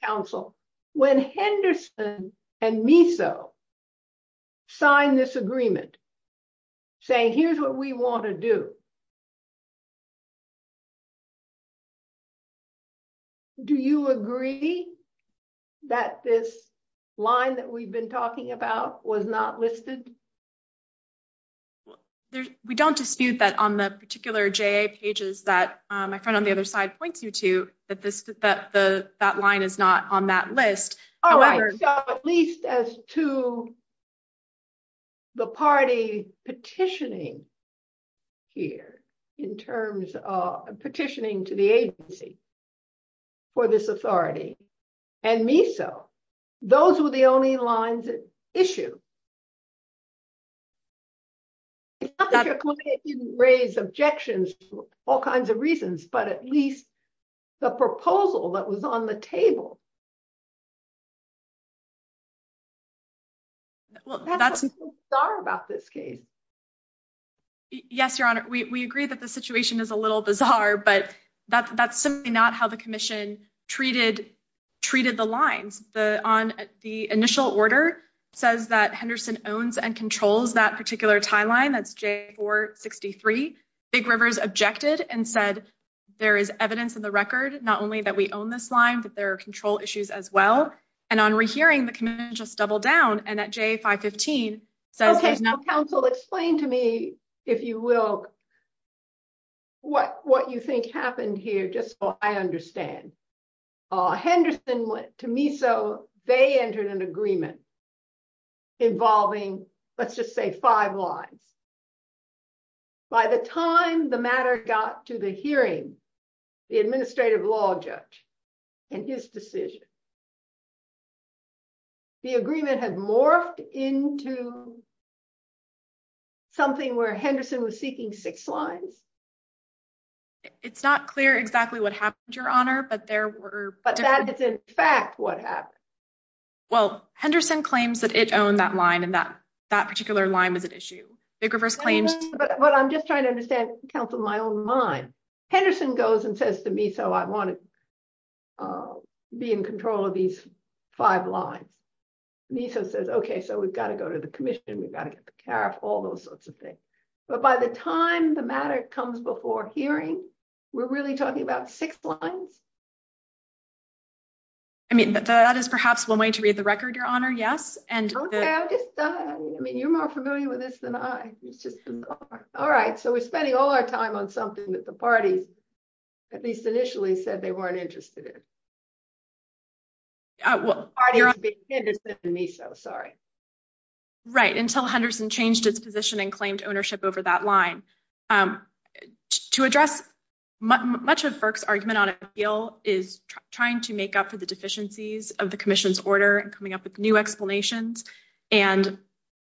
Counsel, when Henderson and me, so sign this agreement. Say, here's what we want to do. Do you agree that this line that we've been talking about was not listed? There's we don't dispute that on the particular J.A. pages that my friend on the other side points you to that this that the that line is not on that list, however, at least as to. The party petitioning. Here in terms of petitioning to the agency. For this authority and me, so those were the only lines issue. That raise objections to all kinds of reasons, but at least the proposal that was on the table. Well, that's sorry about this case. Yes, Your Honor, we agree that the situation is a little bizarre, but that's simply not how the commission treated treated the lines the on the initial order says that Henderson owns and controls that particular timeline. That's J.A. 463. Big Rivers objected and said there is evidence in the record, not only that we own this line, but there are control issues as well. And on rehearing the Commission just double down and at J.A. 515 says. Okay, now counsel explain to me, if you will. What what you think happened here, just so I understand. Henderson went to me, so they entered an agreement. Involving let's just say five lines. By the time the matter got to the hearing, the administrative law judge and his decision. The agreement has morphed into. Something where Henderson was seeking six lines. It's not clear exactly what happened, Your Honor, but there were, but that is, in fact, what happened? Well, Henderson claims that it owned that line and that that particular line was an issue. Big Rivers claims, but I'm just trying to understand, counsel, my own mind. Henderson goes and says to me, so I want to. Be in control of these five lines. Niso says, okay, so we've got to go to the Commission. We've got to get the care of all those sorts of things. But by the time the matter comes before hearing, we're really talking about six lines. I mean, that is perhaps one way to read the record, Your Honor. Yes. And I mean, you're more familiar with this than I was just all right. We're spending all our time on something that the parties, at least initially, said they weren't interested in. Well, Henderson and Niso, sorry. Right. Until Henderson changed its position and claimed ownership over that line. To address much of FERC's argument on appeal is trying to make up for the deficiencies of the Commission's order and coming up with new explanations. And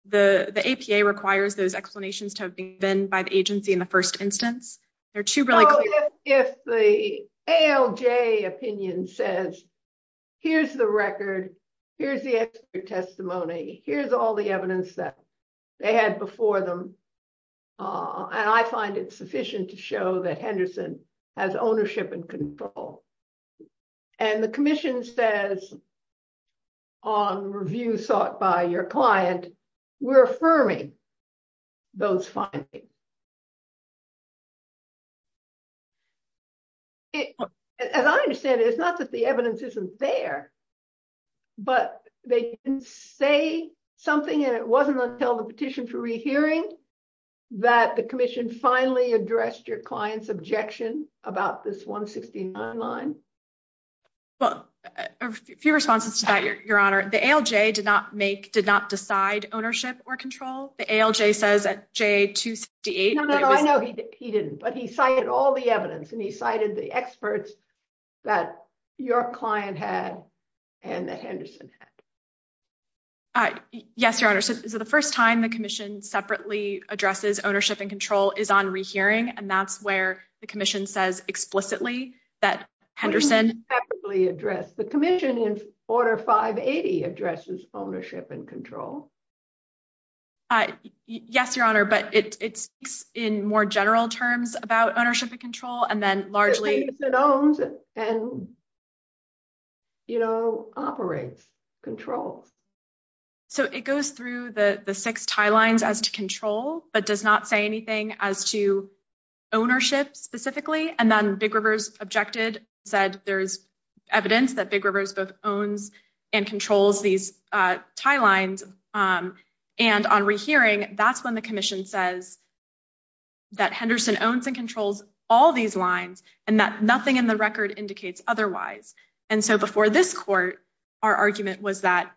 the APA requires those explanations to have been by the agency in the first instance. If the ALJ opinion says, here's the record. Here's the testimony. Here's all the evidence that they had before them. And I find it sufficient to show that Henderson has ownership and control. And the Commission says, on review sought by your client, we're affirming those findings. As I understand it, it's not that the evidence isn't there. But they didn't say something. And it wasn't until the petition for rehearing that the Commission finally addressed your objection about this 169 line. Well, a few responses to that, Your Honor. The ALJ did not make, did not decide ownership or control. The ALJ says at J268. No, no, no. I know he didn't. But he cited all the evidence. And he cited the experts that your client had and that Henderson had. Yes, Your Honor. So the first time the Commission separately addresses ownership and control is on rehearing. And that's where the Commission says explicitly that Henderson. It wasn't separately addressed. The Commission in Order 580 addresses ownership and control. Yes, Your Honor. But it's in more general terms about ownership and control. And then largely. Because Henderson owns and, you know, operates, controls. So it goes through the six tie lines as to control, but does not say anything as to ownership specifically. And then Big Rivers objected, said there's evidence that Big Rivers both owns and controls these tie lines. And on rehearing, that's when the Commission says that Henderson owns and controls all these lines and that nothing in the record indicates otherwise. And so before this court, our argument was that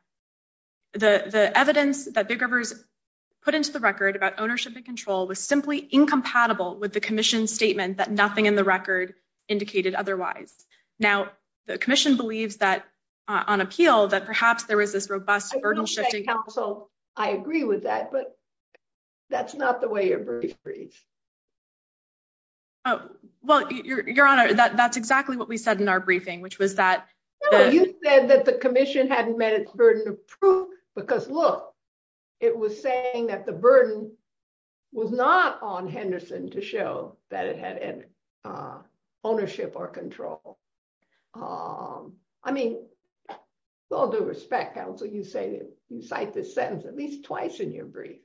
the evidence that Big Rivers put into the record about ownership and control was simply incompatible with the Commission statement that nothing in the record indicated otherwise. Now, the Commission believes that on appeal, that perhaps there was this robust burden shifting. I agree with that, but that's not the way your brief reads. Oh, well, Your Honor, that's exactly what we said in our briefing, which was that. You said that the Commission hadn't met its burden of proof because look, it was saying that the burden was not on Henderson to show that it had ownership or control. I mean, with all due respect, counsel, you say you cite this sentence at least twice in your brief.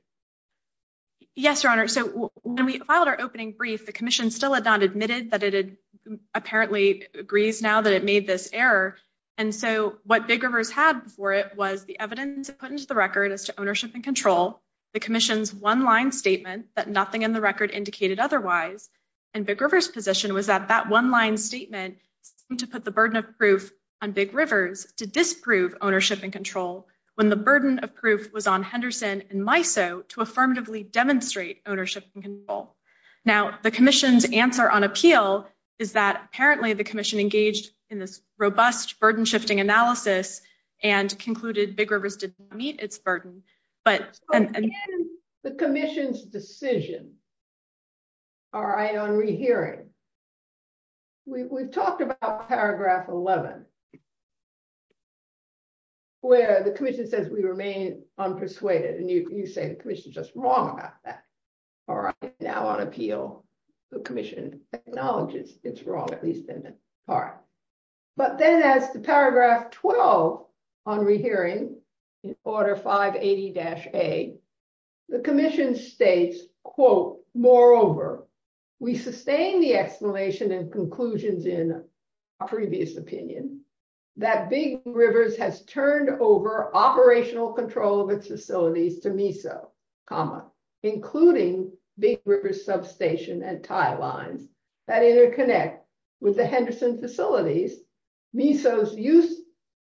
Yes, Your Honor, so when we filed our opening brief, the Commission still had not admitted that it had apparently agrees now that it made this error. And so what Big Rivers had before it was the evidence put into the record as to ownership and control, the Commission's one line statement that nothing in the record indicated otherwise, and Big Rivers' position was that that one line statement seemed to put the burden of proof on Big Rivers to disprove ownership and control when the burden of proof was on Henderson and MISO to affirmatively demonstrate ownership and control. Now, the Commission's answer on appeal is that apparently the Commission engaged in robust burden shifting analysis and concluded Big Rivers didn't meet its burden. The Commission's decision on rehearing, we've talked about paragraph 11, where the Commission says we remain unpersuaded. And you say the Commission is just wrong about that. All right, now on appeal, the Commission acknowledges it's wrong, at least in that part. But then as to paragraph 12 on rehearing in order 580-A, the Commission states, quote, moreover, we sustain the explanation and conclusions in our previous opinion that Big Rivers has turned over operational control of its facilities to MISO, including Big Rivers substation and tie lines that interconnect with the Henderson facilities. MISO's use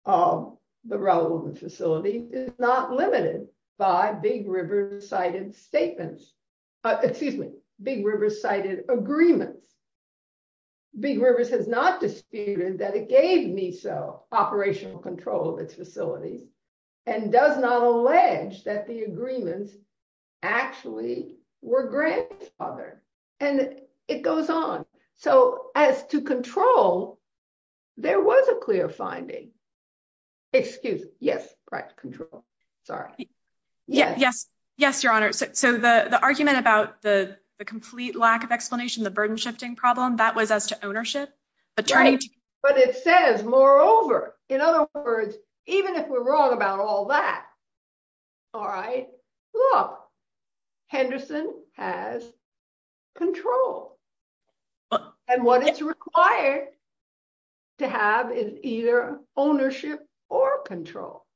of the Relwood facility is not limited by Big Rivers cited statements, excuse me, Big Rivers cited agreements. Big Rivers has not disputed that it gave MISO operational control of its facilities and does not allege that the agreements actually were grandfathered. And it goes on. So as to control, there was a clear finding. Excuse, yes, right, control. Sorry. Yes. Yes, Your Honor. So the argument about the complete lack of explanation, the burden shifting problem, that was as to ownership. But it says moreover. In other words, even if we're wrong about all that, all right, look, Henderson has control. And what is required to have is either ownership or control.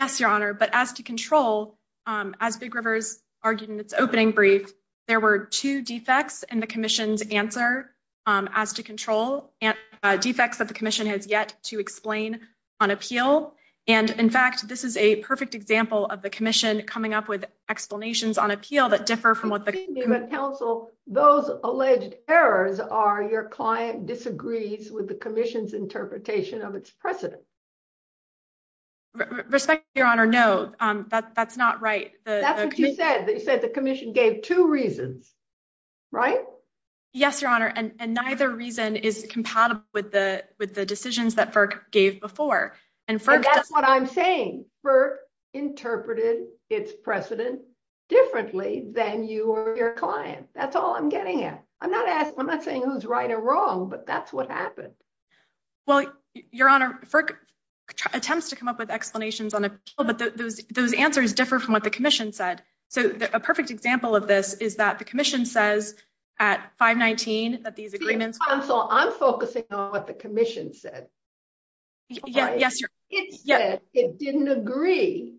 Yes, Your Honor. But as to control, as Big Rivers argued in its opening brief, there were two defects in the commission's answer as to control and defects that the commission has yet to explain on appeal. And in fact, this is a perfect example of the commission coming up with explanations on appeal that differ from what the council, those alleged errors are your client disagrees with the commission's interpretation of its precedent. Respect, Your Honor. No, that's not right. That's what you said. You said the commission gave two reasons, right? Yes, Your Honor. And neither reason is compatible with the decisions that FERC gave before. And that's what I'm saying. FERC interpreted its precedent differently than you or your client. That's all I'm getting at. I'm not saying who's right or wrong, but that's what happened. Well, Your Honor, FERC attempts to come up with explanations on appeal, but those answers differ from what the commission said. So a perfect example of this is that the commission says at 519 that these agreements. See, counsel, I'm focusing on what the commission said. Yes, Your Honor. It said it didn't agree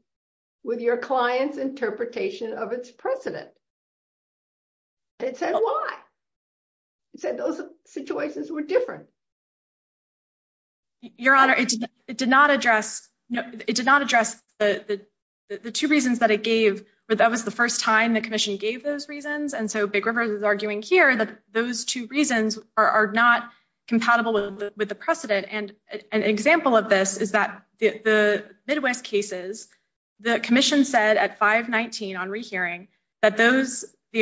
with your client's interpretation of its precedent. It said why? It said those situations were different. Your Honor, it did not address the two reasons that it gave. But that was the first time the commission gave those reasons. And so Big River is arguing here that those two reasons are not compatible with the precedent. And an example of this is that the Midwest cases, the commission said at 519 on rehearing and relevant respects to the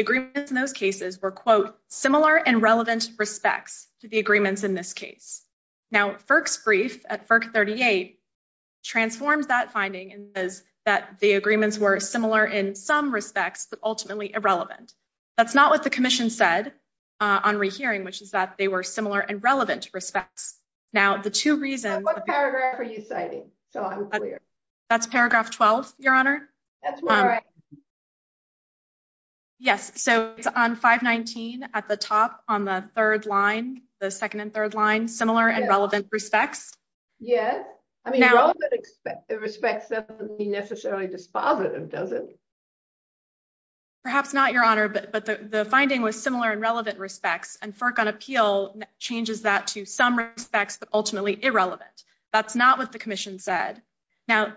agreements in this case. Now, FERC's brief at FERC 38 transforms that finding and says that the agreements were similar in some respects, but ultimately irrelevant. That's not what the commission said on rehearing, which is that they were similar and relevant respects. Now, the two reasons. What paragraph are you citing? That's paragraph 12, Your Honor. That's right. Yes, so it's on 519 at the top on the third line, the second and third line, similar and relevant respects. Yes. I mean, relevant respects doesn't mean necessarily dispositive, does it? Perhaps not, Your Honor. But the finding was similar and relevant respects. And FERC on appeal changes that to some respects, but ultimately irrelevant. That's not what the commission said. The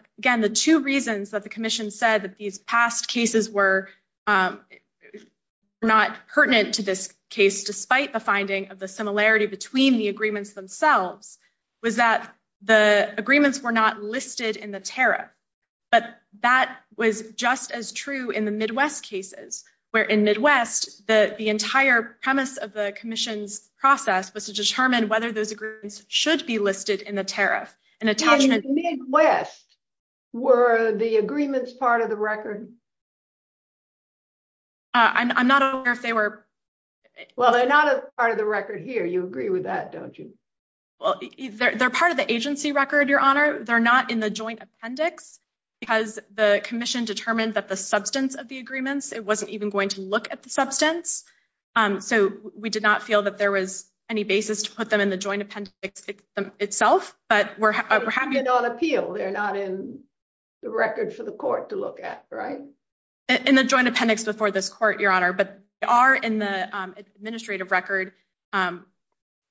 finding was that the agreements were not listed in the tariff, but that was just as true in the Midwest cases, where in Midwest, the entire premise of the commission's process was to determine whether those agreements should be listed in the tariff. In the Midwest, were the agreements part of the record? I'm not aware if they were. Well, they're not a part of the record here. You agree with that, don't you? Well, they're part of the agency record, Your Honor. They're not in the joint appendix, because the commission determined that the substance of the agreements, it wasn't even going to look at the substance. So we did not feel that there was any basis to put them in the joint appendix itself, but we're happy- They're not on appeal. They're not in the record for the court to look at, right? In the joint appendix before this court, Your Honor. But they are in the administrative record.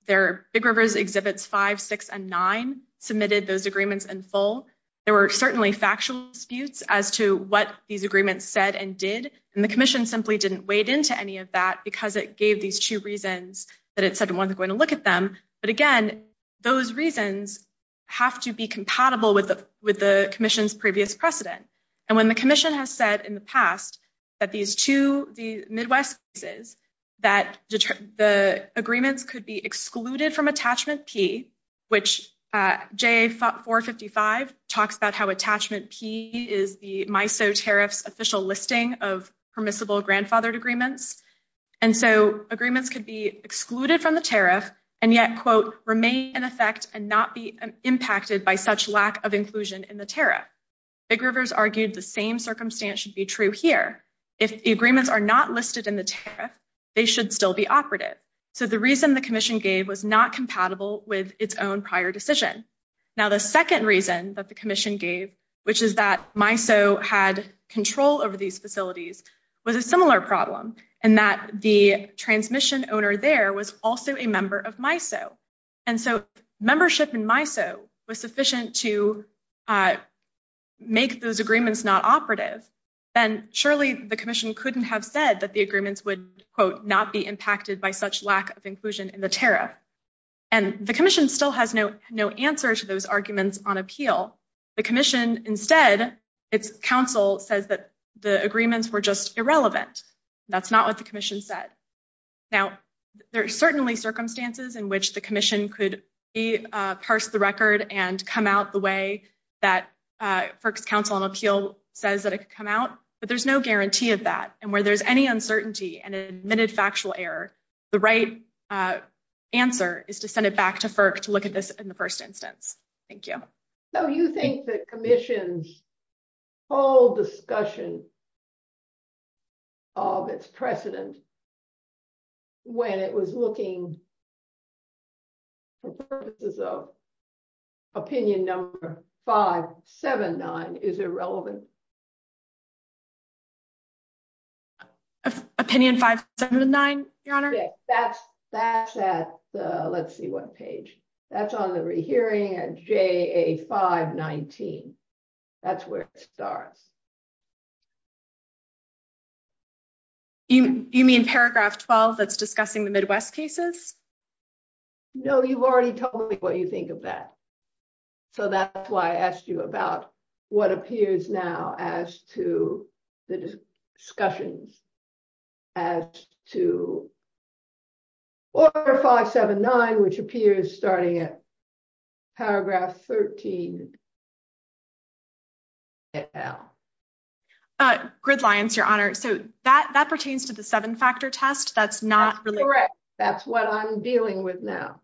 Big Rivers exhibits five, six, and nine submitted those agreements in full. There were certainly factual disputes as to what these agreements said and did. And the commission simply didn't wade into any of that because it gave these two reasons that it said it wasn't going to look at them. But again, those reasons have to be compatible with the commission's previous precedent. And when the commission has said in the past that these two, the Midwest cases, that the agreements could be excluded from attachment P, which JA 455 talks about how attachment P is the MISO tariff's official listing of permissible grandfathered agreements. And so agreements could be excluded from the tariff and yet, quote, remain in effect and not be impacted by such lack of inclusion in the tariff. Big Rivers argued the same circumstance should be true here. If the agreements are not listed in the tariff, they should still be operative. So the reason the commission gave was not compatible with its own prior decision. Now, the second reason that the commission gave, which is that MISO had control over these facilities, was a similar problem. And that the transmission owner there was also a member of MISO. And so membership in MISO was sufficient to make those agreements not operative. And surely the commission couldn't have said that the agreements would, quote, not be impacted by such lack of inclusion in the tariff. And the commission still has no answer to those arguments on appeal. The commission instead, its counsel says that the agreements were just irrelevant. That's not what the commission said. Now, there are certainly circumstances in which the commission could parse the record and come out the way that FERC's counsel on appeal says that it could come out. But there's no guarantee of that. And where there's any uncertainty and an admitted factual error, the right answer is to send it back to FERC to look at this in the first instance. Thank you. So you think the commission's whole discussion of its precedent when it was looking for purposes of opinion number 579 is irrelevant? That's at the, let's see what page. That's on the rehearing at JA 519. That's where it starts. You mean paragraph 12 that's discussing the Midwest cases? No, you've already told me what you think of that. So that's why I asked you about what appears now as to the discussions as to order 579, which appears starting at paragraph 13. Gridlines, your honor. So that pertains to the seven factor test. That's not really correct. That's what I'm dealing with now.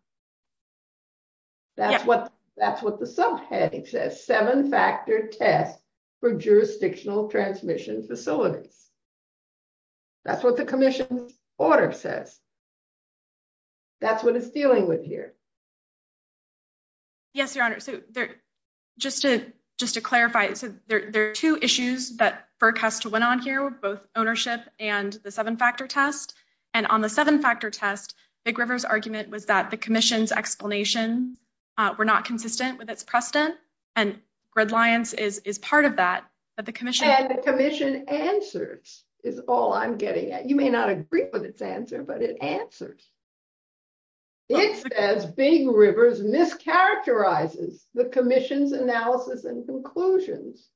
That's what the subheading says. Seven factor test for jurisdictional transmission facilities. That's what the commission's order says. That's what it's dealing with here. Yes, your honor. So just to clarify, there are two issues that FERC has to went on here, both ownership and the seven factor test. And on the seven factor test, Big River's argument was that the commission's explanation were not consistent with its precedent. And gridlines is part of that. And the commission answers is all I'm getting at. You may not agree with its answer, but it answers. It says Big River's mischaracterizes the commission's analysis and conclusions.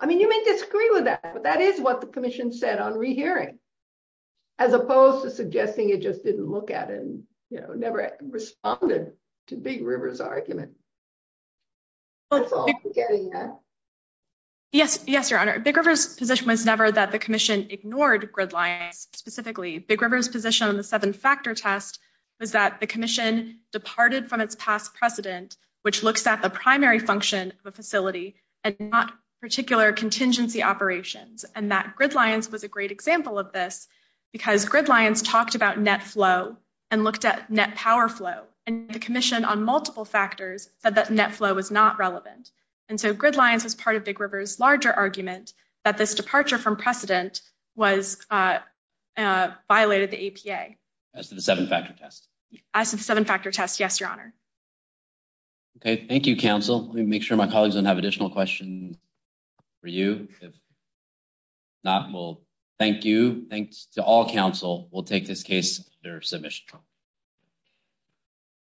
I mean, you may disagree with that, but that is what the commission said on rehearing, as opposed to suggesting it just didn't look at it and never responded to Big River's argument. That's all I'm getting at. Yes, your honor. Big River's position was never that the commission ignored gridlines specifically. Big River's position on the seven factor test was that the commission departed from its past precedent, which looks at the primary function of a facility and not particular contingency operations. And that gridlines was a great example of this because gridlines talked about net flow and looked at net power flow. And the commission on multiple factors said that net flow was not relevant. And so gridlines was part of Big River's larger argument that this departure from precedent violated the APA. As to the seven factor test. As to the seven factor test, yes, your honor. Okay, thank you, counsel. Let me make sure my colleagues don't have additional questions for you. If not, well, thank you. Thanks to all counsel. We'll take this case under submission.